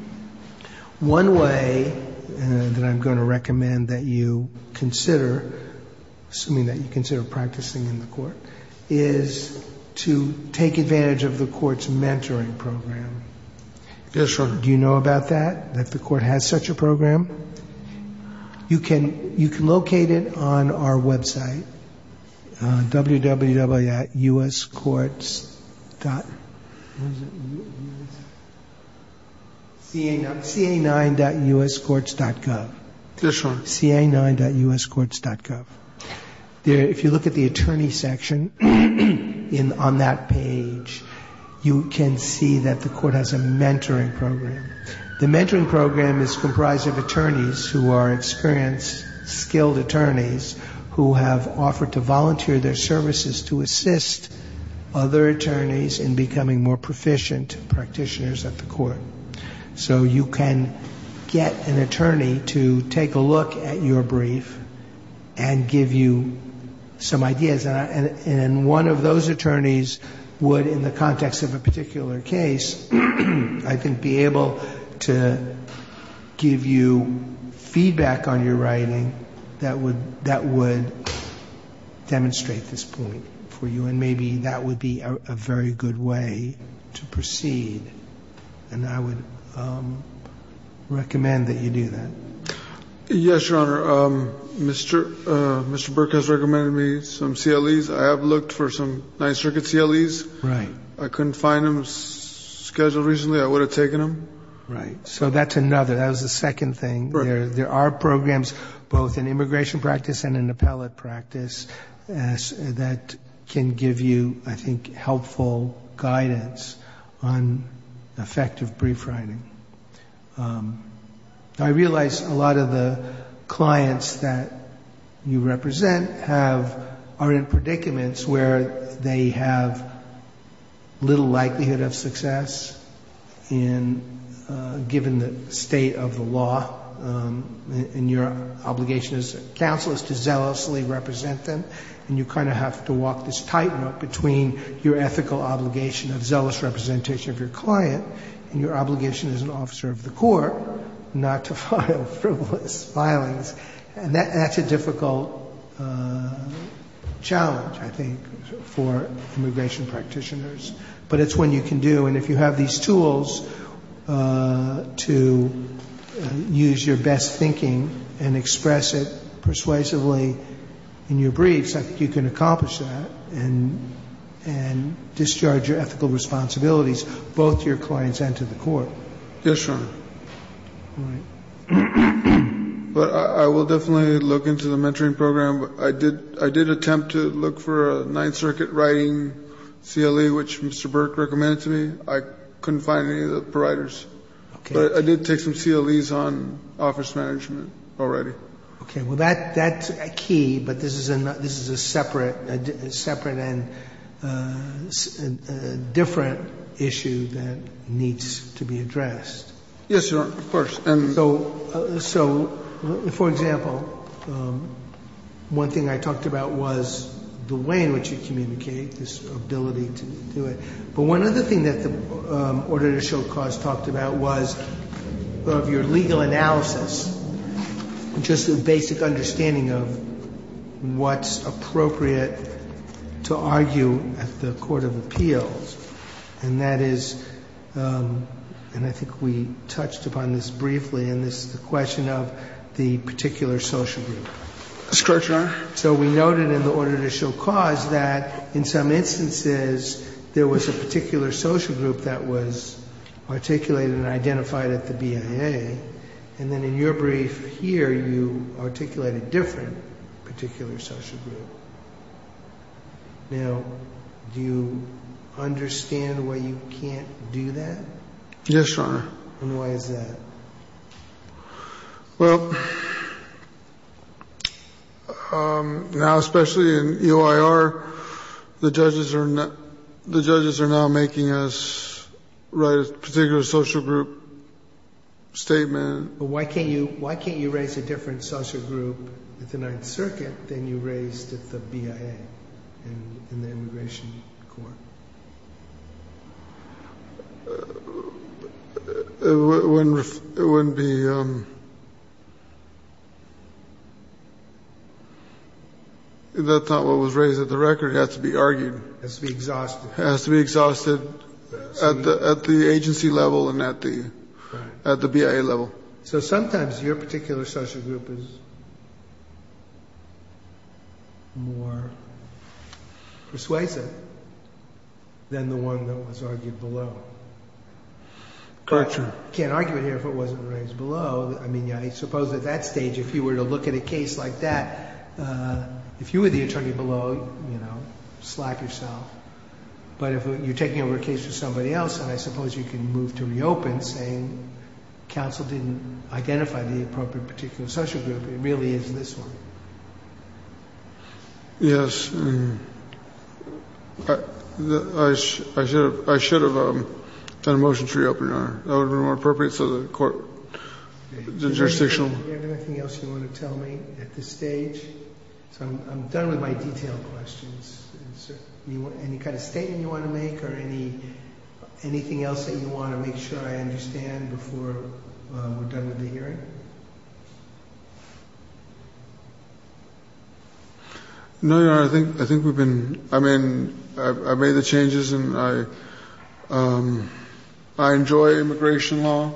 One way that I'm going to recommend that you consider, assuming that you consider practicing in the court, is to take advantage of the court's mentoring program. Do you know about that, that the court has such a program? You can locate it on our website, www.ca9.uscourts.gov. If you look at the attorney section on that page, you can see that the court has a mentoring program. The mentoring program is comprised of attorneys who are experienced, skilled attorneys who have offered to volunteer their services to assist other attorneys in becoming more proficient practitioners at the court. So you can get an attorney to take a look at your brief and give you some ideas. And one of those attorneys would, in the context of a particular case, be able to give you feedback on your writing that would demonstrate this point for you. And maybe that would be a very good way to proceed. And I would recommend that you do that. Yes, Your Honor, Mr. Burke has recommended me some CLEs. I have looked for some Ninth Circuit CLEs. I couldn't find them. It was scheduled recently. I would have taken them. Right. So that's another. That was the second thing. There are programs, both in immigration practice and in appellate practice, that can give you, I think, helpful guidance on effective brief writing. I realize a lot of the clients that you represent are in predicaments where they have little likelihood of success, given the state of the law, and your obligation as a counsel is to zealously represent them. And you kind of have to walk this tightrope between your ethical obligation of zealous representation of your client and your obligation as an officer of the court not to file frivolous filings. And that's a difficult challenge, I think, for immigration practitioners. But it's one you can do. And if you have these tools to use your best thinking and express it persuasively in your briefs, I think you can accomplish that and discharge your ethical responsibilities, both to your clients and to the court. Yes, Your Honor. But I will definitely look into the mentoring program. I did attempt to look for a Ninth Circuit writing CLE, which Mr. Burke recommended to me. I couldn't find any of the providers. But I did take some CLEs on office management already. Okay. Well, that's a key, but this is a separate and different issue that needs to be addressed. Yes, Your Honor. Of course. So, for example, one thing I talked about was the way in which you communicate, this ability to do it. But one other thing that the order to show cause talked about was your legal analysis, just a basic understanding of what's appropriate to argue at the court of appeals. And that is, and I think we touched upon this briefly, and this is the question of the particular social group. That's correct, Your Honor. So we noted in the order to show cause that, in some instances, there was a particular social group that was articulated and identified at the BIA. And then in your brief here, you articulated a different particular social group. Now, do you understand why you can't do that? Yes, Your Honor. And why is that? Well, now especially in EOIR, the judges are now making us write a particular social group statement. Why can't you write a different social group at the Ninth Circuit than you raised at the BIA in the immigration court? It wouldn't be, that's not what was raised at the record. It has to be argued. It has to be exhausted. It has to be exhausted at the agency level and at the BIA level. So sometimes your particular social group is more persuasive than the one that was argued below. Correct, Your Honor. I can't argue with you if it wasn't raised below. I mean, I suppose at that stage, if you were to look at a case like that, if you were the attorney below, you know, slap yourself. But if you're taking over a case for somebody else, then I suppose you can move to reopen saying counsel didn't identify the appropriate particular social group. It really isn't this one. Yes. I should have done a motion for you, Your Honor. That would have been more appropriate to the court. Do you have anything else you want to tell me at this stage? I'm done with my detailed questions. Is there any kind of statement you want to make or anything else that you want to make sure I understand before we're done with the hearing? No, Your Honor. I think we've been, I mean, I've made the changes and I enjoy immigration law.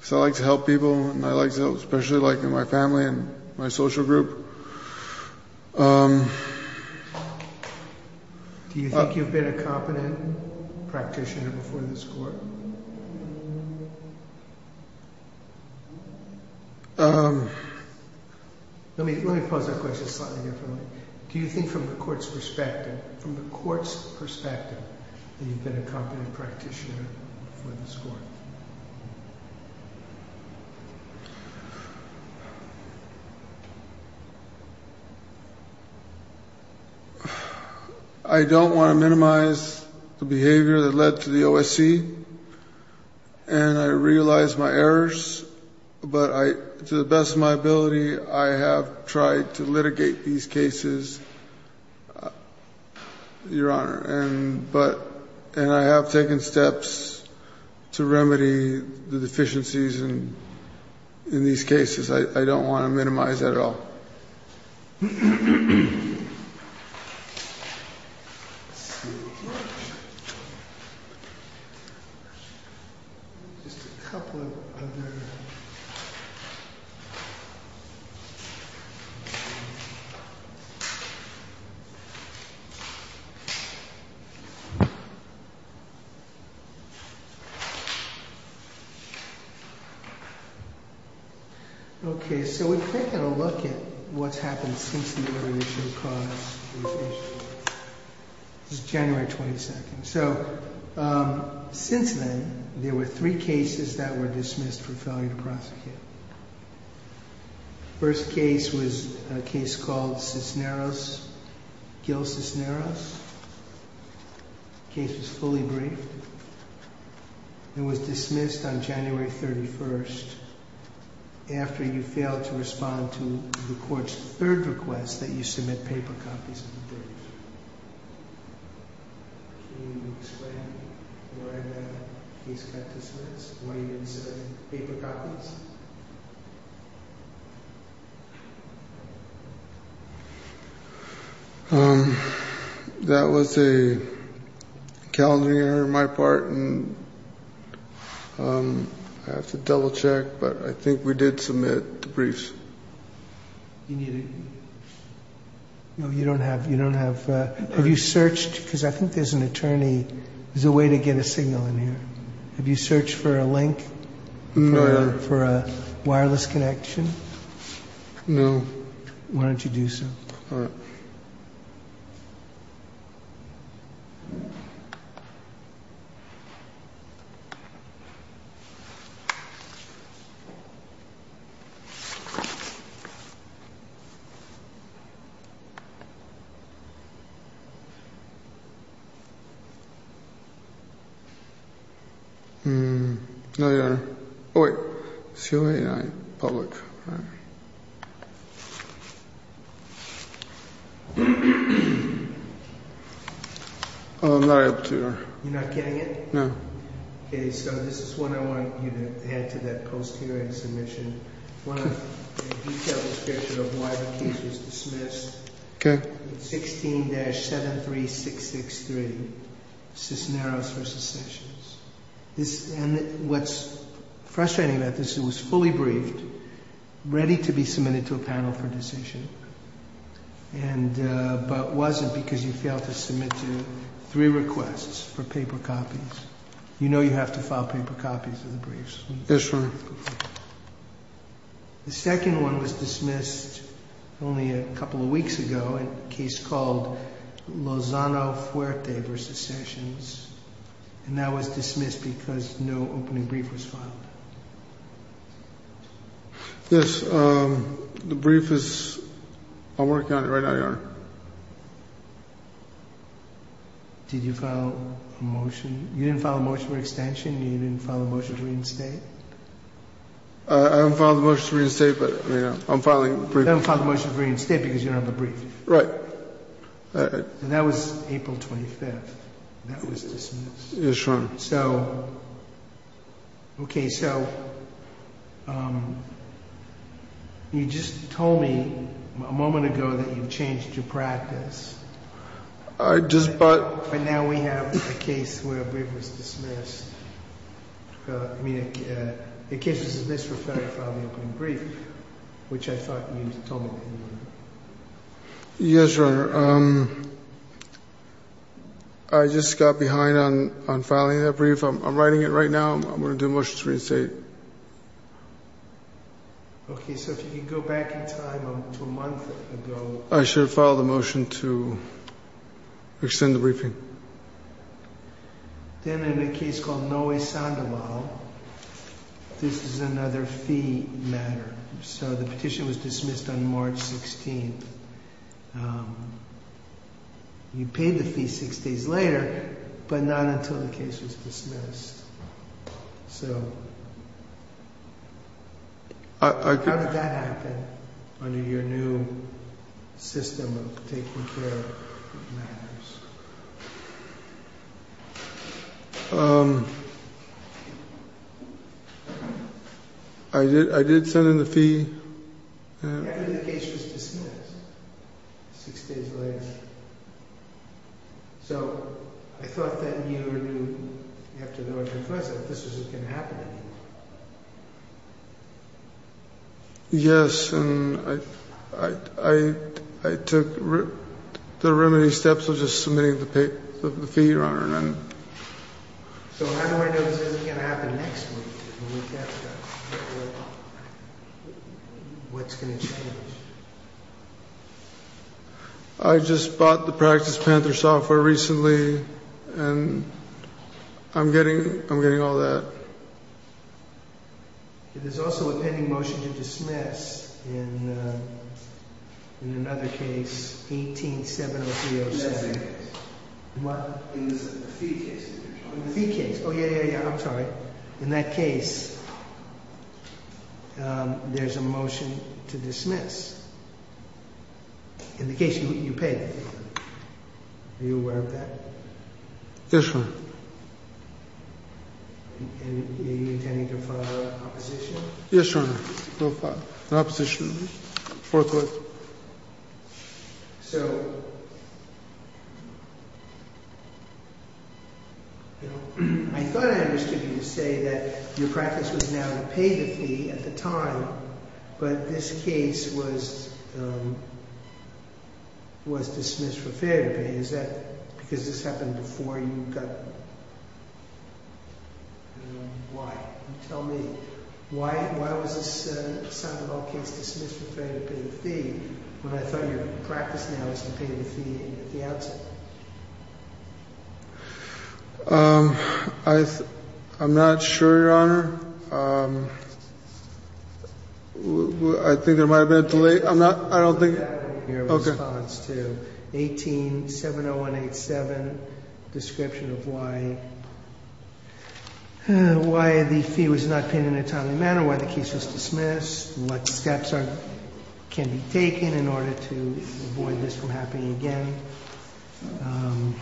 So I like to help people and I like to help, especially like in my family and my social group. Do you think you've been a competent practitioner before in this court? Let me pose that question slightly differently. Do you think from the court's perspective, from the court's perspective, that you've been a competent practitioner before in this court? I don't want to minimize the behavior that led to the OSC and I realize my errors, but to the best of my ability, I have tried to litigate these cases, Your Honor. And I have taken steps to remedy the deficiencies in these cases. I don't want to minimize that at all. Okay, so we'll take a look at what's happened since you were released from prison. This is January 22nd. So, since then, there were three cases that were dismissed for failure to prosecute. The first case was a case called Cisneros, Gil Cisneros. The case was fully briefed. It was dismissed on January 31st after you failed to respond to the court's third request that you submit paper copies. Can you explain what a case like Cisneros is? What do you mean by paper copies? That was a calendar error on my part and I have to double check, but I think we did submit the briefs. No, you don't have, you don't have, have you searched, because I think there's an attorney, there's a way to get a signal in here. Have you searched for a link for a wireless connection? No. Why don't you do so? All right. All right. You're not getting it? No. Okay, so this is what I want you to add to that post-hearing submission. One of the detailed description of why the case was dismissed. Okay. 16-73663, Cisneros v. Sessions. What's frustrating about this, it was fully briefed, ready to be submitted to a panel for decision, but it wasn't because you failed to submit to three requests for paper copies. You know you have to file paper copies for the briefs. Yes, sir. The second one was dismissed only a couple of weeks ago, a case called Lozano Fuerte v. Sessions, and that was dismissed because no opening brief was filed. Yes, the brief is, I'll work on it right on your end. Did you file a motion? You didn't file a motion for extension? You didn't file a motion to reinstate? I didn't file a motion to reinstate, but I'm filing a brief. You didn't file a motion to reinstate because you don't have a brief. Right. And that was April 25th. Yes, sir. Okay, so you just told me a moment ago that you changed your practice. I just thought... And now we have a case where a brief was dismissed. The case was dismissed for failing to file an opening brief, which I thought means total failure. Yes, Your Honor, I just got behind on filing that brief. I'm writing it right now. I'm going to do a motion to reinstate. Okay, so if you could go back in time to a month ago... I should have filed a motion to extend the briefing. Then in the case called Noe Sandoval, this is another fee matter. So the petition was dismissed on March 16th. You pay the fee six days later, but not until the case is dismissed. How did that happen under your new system of taking care of matters? I did send in the fee. Yeah, and then the case was dismissed six days later. So I thought then you knew after the election president that this was going to happen. Yes, and I took... I submitted the fee, Your Honor. So how do I know this is going to happen next week? What's going to change? I just bought the practice tender software recently, and I'm getting all that. There's also a pending motion to dismiss in another case, 18-70307. In the fee case? In the fee case. Oh, yeah, yeah, yeah. I'm sorry. In that case, there's a motion to dismiss. In the case you paid. Are you aware of that? Yes, Your Honor. And do you intend to comply with that proposition? Yes, Your Honor. I'll comply with the proposition. So... I thought I understood you to say that your practice was now to pay the fee at the time, but this case was dismissed for failure. Is that because this happened before you got... Why? Tell me, why was it said, dismissed for failure to pay the fee, when I thought your practice now was to pay the fee in advance? I'm not sure, Your Honor. I think I might have been delayed. I'm not... I don't think... Your response to 18-70187, description of why... why the fee was not paid in a timely manner, why the case was dismissed, and what steps can be taken in order to avoid this from happening again. Um...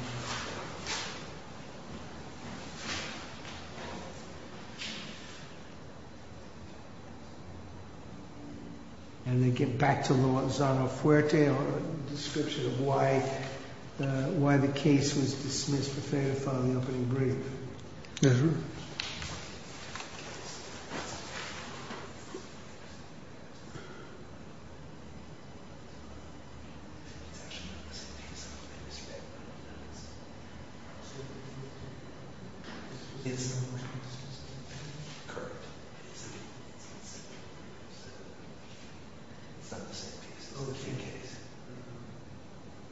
And then get back to Luazano Puerte, the description of why the case was dismissed, if they have found nothing aggrieving. Uh-huh. It's... It's... It's...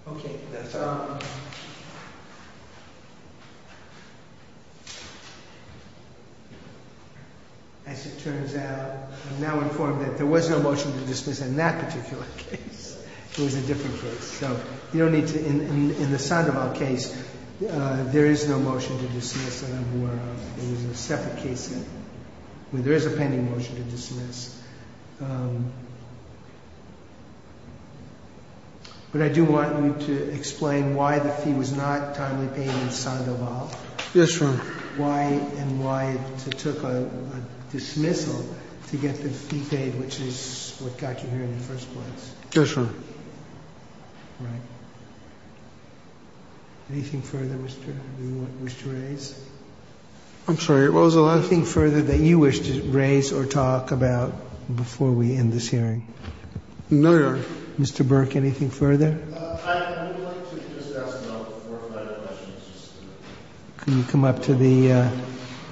Okay, that's all. I secure that I am now informed that there was no motion to dismiss in that particular case. It was a different case. You don't need to... In the Sandoval case, there is no motion to dismiss in Luazano Puerte. It was a separate case. There is a pending motion to dismiss. But I do want you to explain why the fee was not timely paid in Sandoval. Yes, Your Honor. Why and why it took a dismissal to get the fee paid, which is what got you here in the first place. Yes, Your Honor. Right. Anything further, Mr. Berk, that you wish to raise? I'm sorry, Rosal, anything further that you wish to raise or talk about before we end this hearing? No, Your Honor. Mr. Berk, anything further? Can you come up to the, uh,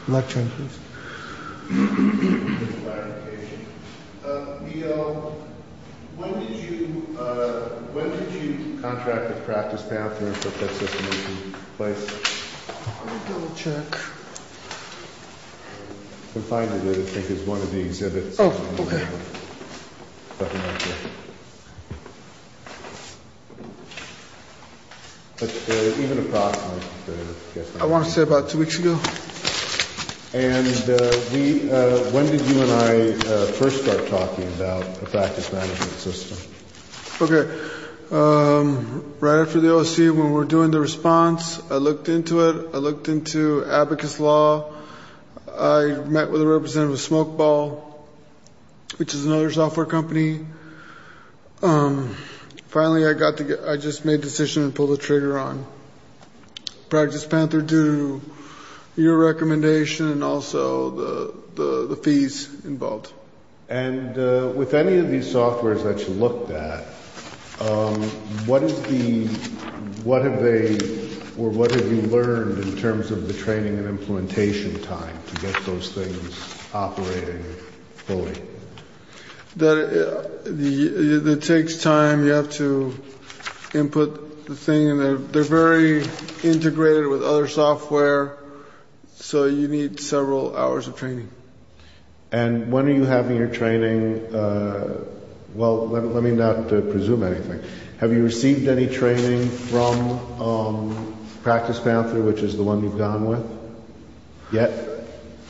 lectern, please? Thank you, Your Honor. Uh, we, uh, when did you, uh, when did you contract the practice pamphlet? That's what the motion is. Let me double check. I'm finding it, I think it's one of the exhibits. Oh, okay. But, uh, even if possible... I want to say about two weeks ago. And, uh, we, uh, when did you and I, uh, first start talking about the practice management system? Okay. Um, right after the OSU, when we were doing the response, I looked into it. I looked into abacus law. I met with a representative of Smokeball, which is another software company. Um, finally I got to get, I just made a decision to pull the trigger on. Practice Panther due to your recommendation and also the, the, the fees involved. And, uh, with any of these softwares that you look at, um, what is the, what have they, or what have you learned in terms of the training and implementation time to get those things operating fully? The, uh, the, it takes time. You have to input the thing, and they're very integrated with other software. So you need several hours of training. And when are you having your training, uh, well, let, let me not presume anything. Have you received any training from, um, Practice Panther, which is the one you've gone with, yet?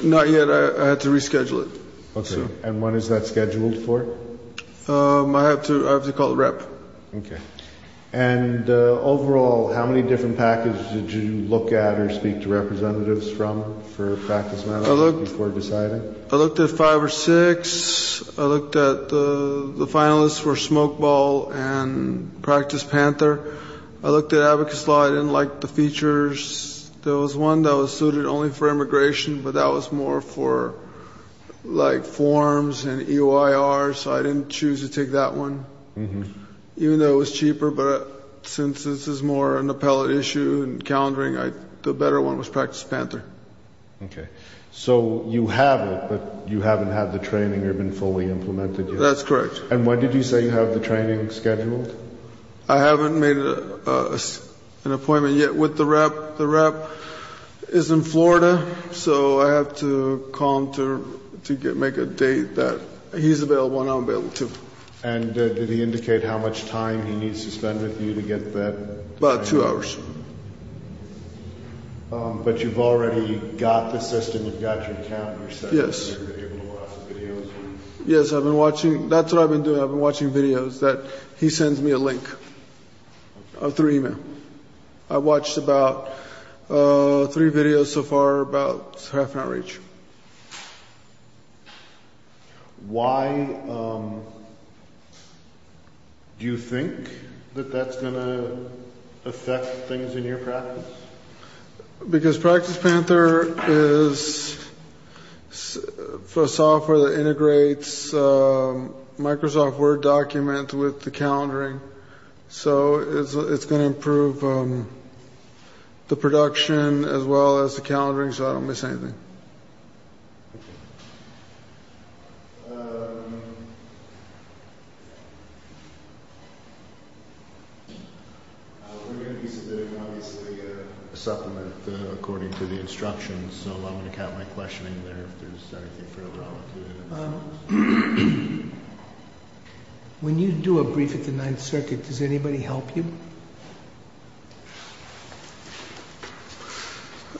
Not yet. I, I have to reschedule it. Okay, and when is that scheduled for? Um, I have to, I have to call the rep. Okay. And, uh, overall, how many different packages did you look at or speak to representatives from for Practice Panther before deciding? I looked at five or six. I looked at the, the finalists for Smokeball and Practice Panther. I looked at abacus law. I didn't like the features. There was one that was suited only for immigration, but that was more for, like, forms and EOIR, so I didn't choose to take that one. Even though it was cheaper, but since this is more an appellate issue and calendaring, I, the better one was Practice Panther. Okay. So you haven't, but you haven't had the training or been fully implemented yet? That's correct. And when did you say you have the training scheduled? I haven't made an appointment yet with the rep. The rep is in Florida, so I have to call him to, to get, make a date that he's available and I'm available too. And did he indicate how much time he needs to spend with you to get that? About two hours. Um, but you've already got the system, you've got your calendars set up. Yes. You've been doing lots of videos. Yes, I've been watching, that's what I've been doing. I've been watching videos that he sends me a link through email. I've watched about three videos so far, about half my reach. Why do you think that that's going to affect things in your practice? Because Practice Panther is the software that integrates Microsoft Word documents with the calendaring, so it's going to improve the production as well as the calendaring, so I don't miss anything. I'm going to stop the recording for the instructions, so I'm going to have my question in there. When you do a brief at the Ninth Circuit, does anybody help you?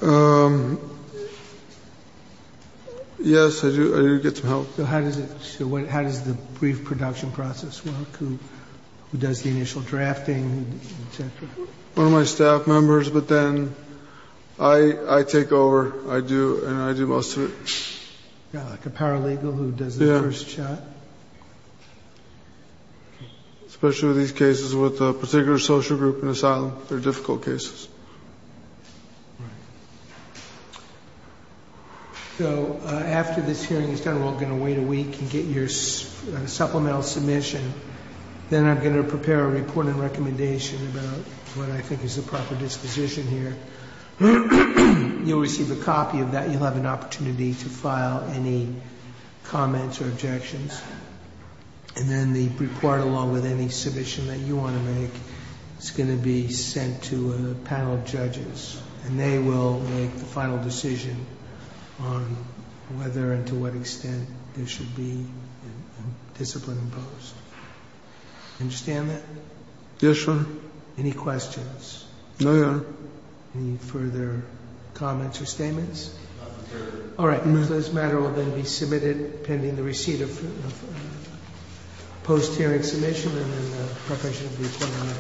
Um, yes, I do get some help. So how does the brief production process work? Who does the initial drafting, etc.? One of my staff members, but then I take over, I do, and I do most of it. Like a paralegal who does the first shot? Yes. Especially with these cases with a particular social group in asylum, they're difficult cases. So after the hearing, you're going to wait a week to get your supplemental submission. Then I'm going to prepare an important recommendation about what I think is the proper disposition here. You'll receive a copy of that, and you'll have an opportunity to file any comments or objections. And then the brief, along with any submission that you want to make, is going to be sent to a panel. And they will make the final decision on whether and to what extent it should be physically imposed. Understand that? Yes, sir. Any questions? No, no. Any further comments or statements? All right. This matter will then be submitted pending the receipt of the post-hearing submission. And then the preparation will be put on the table. Thank you.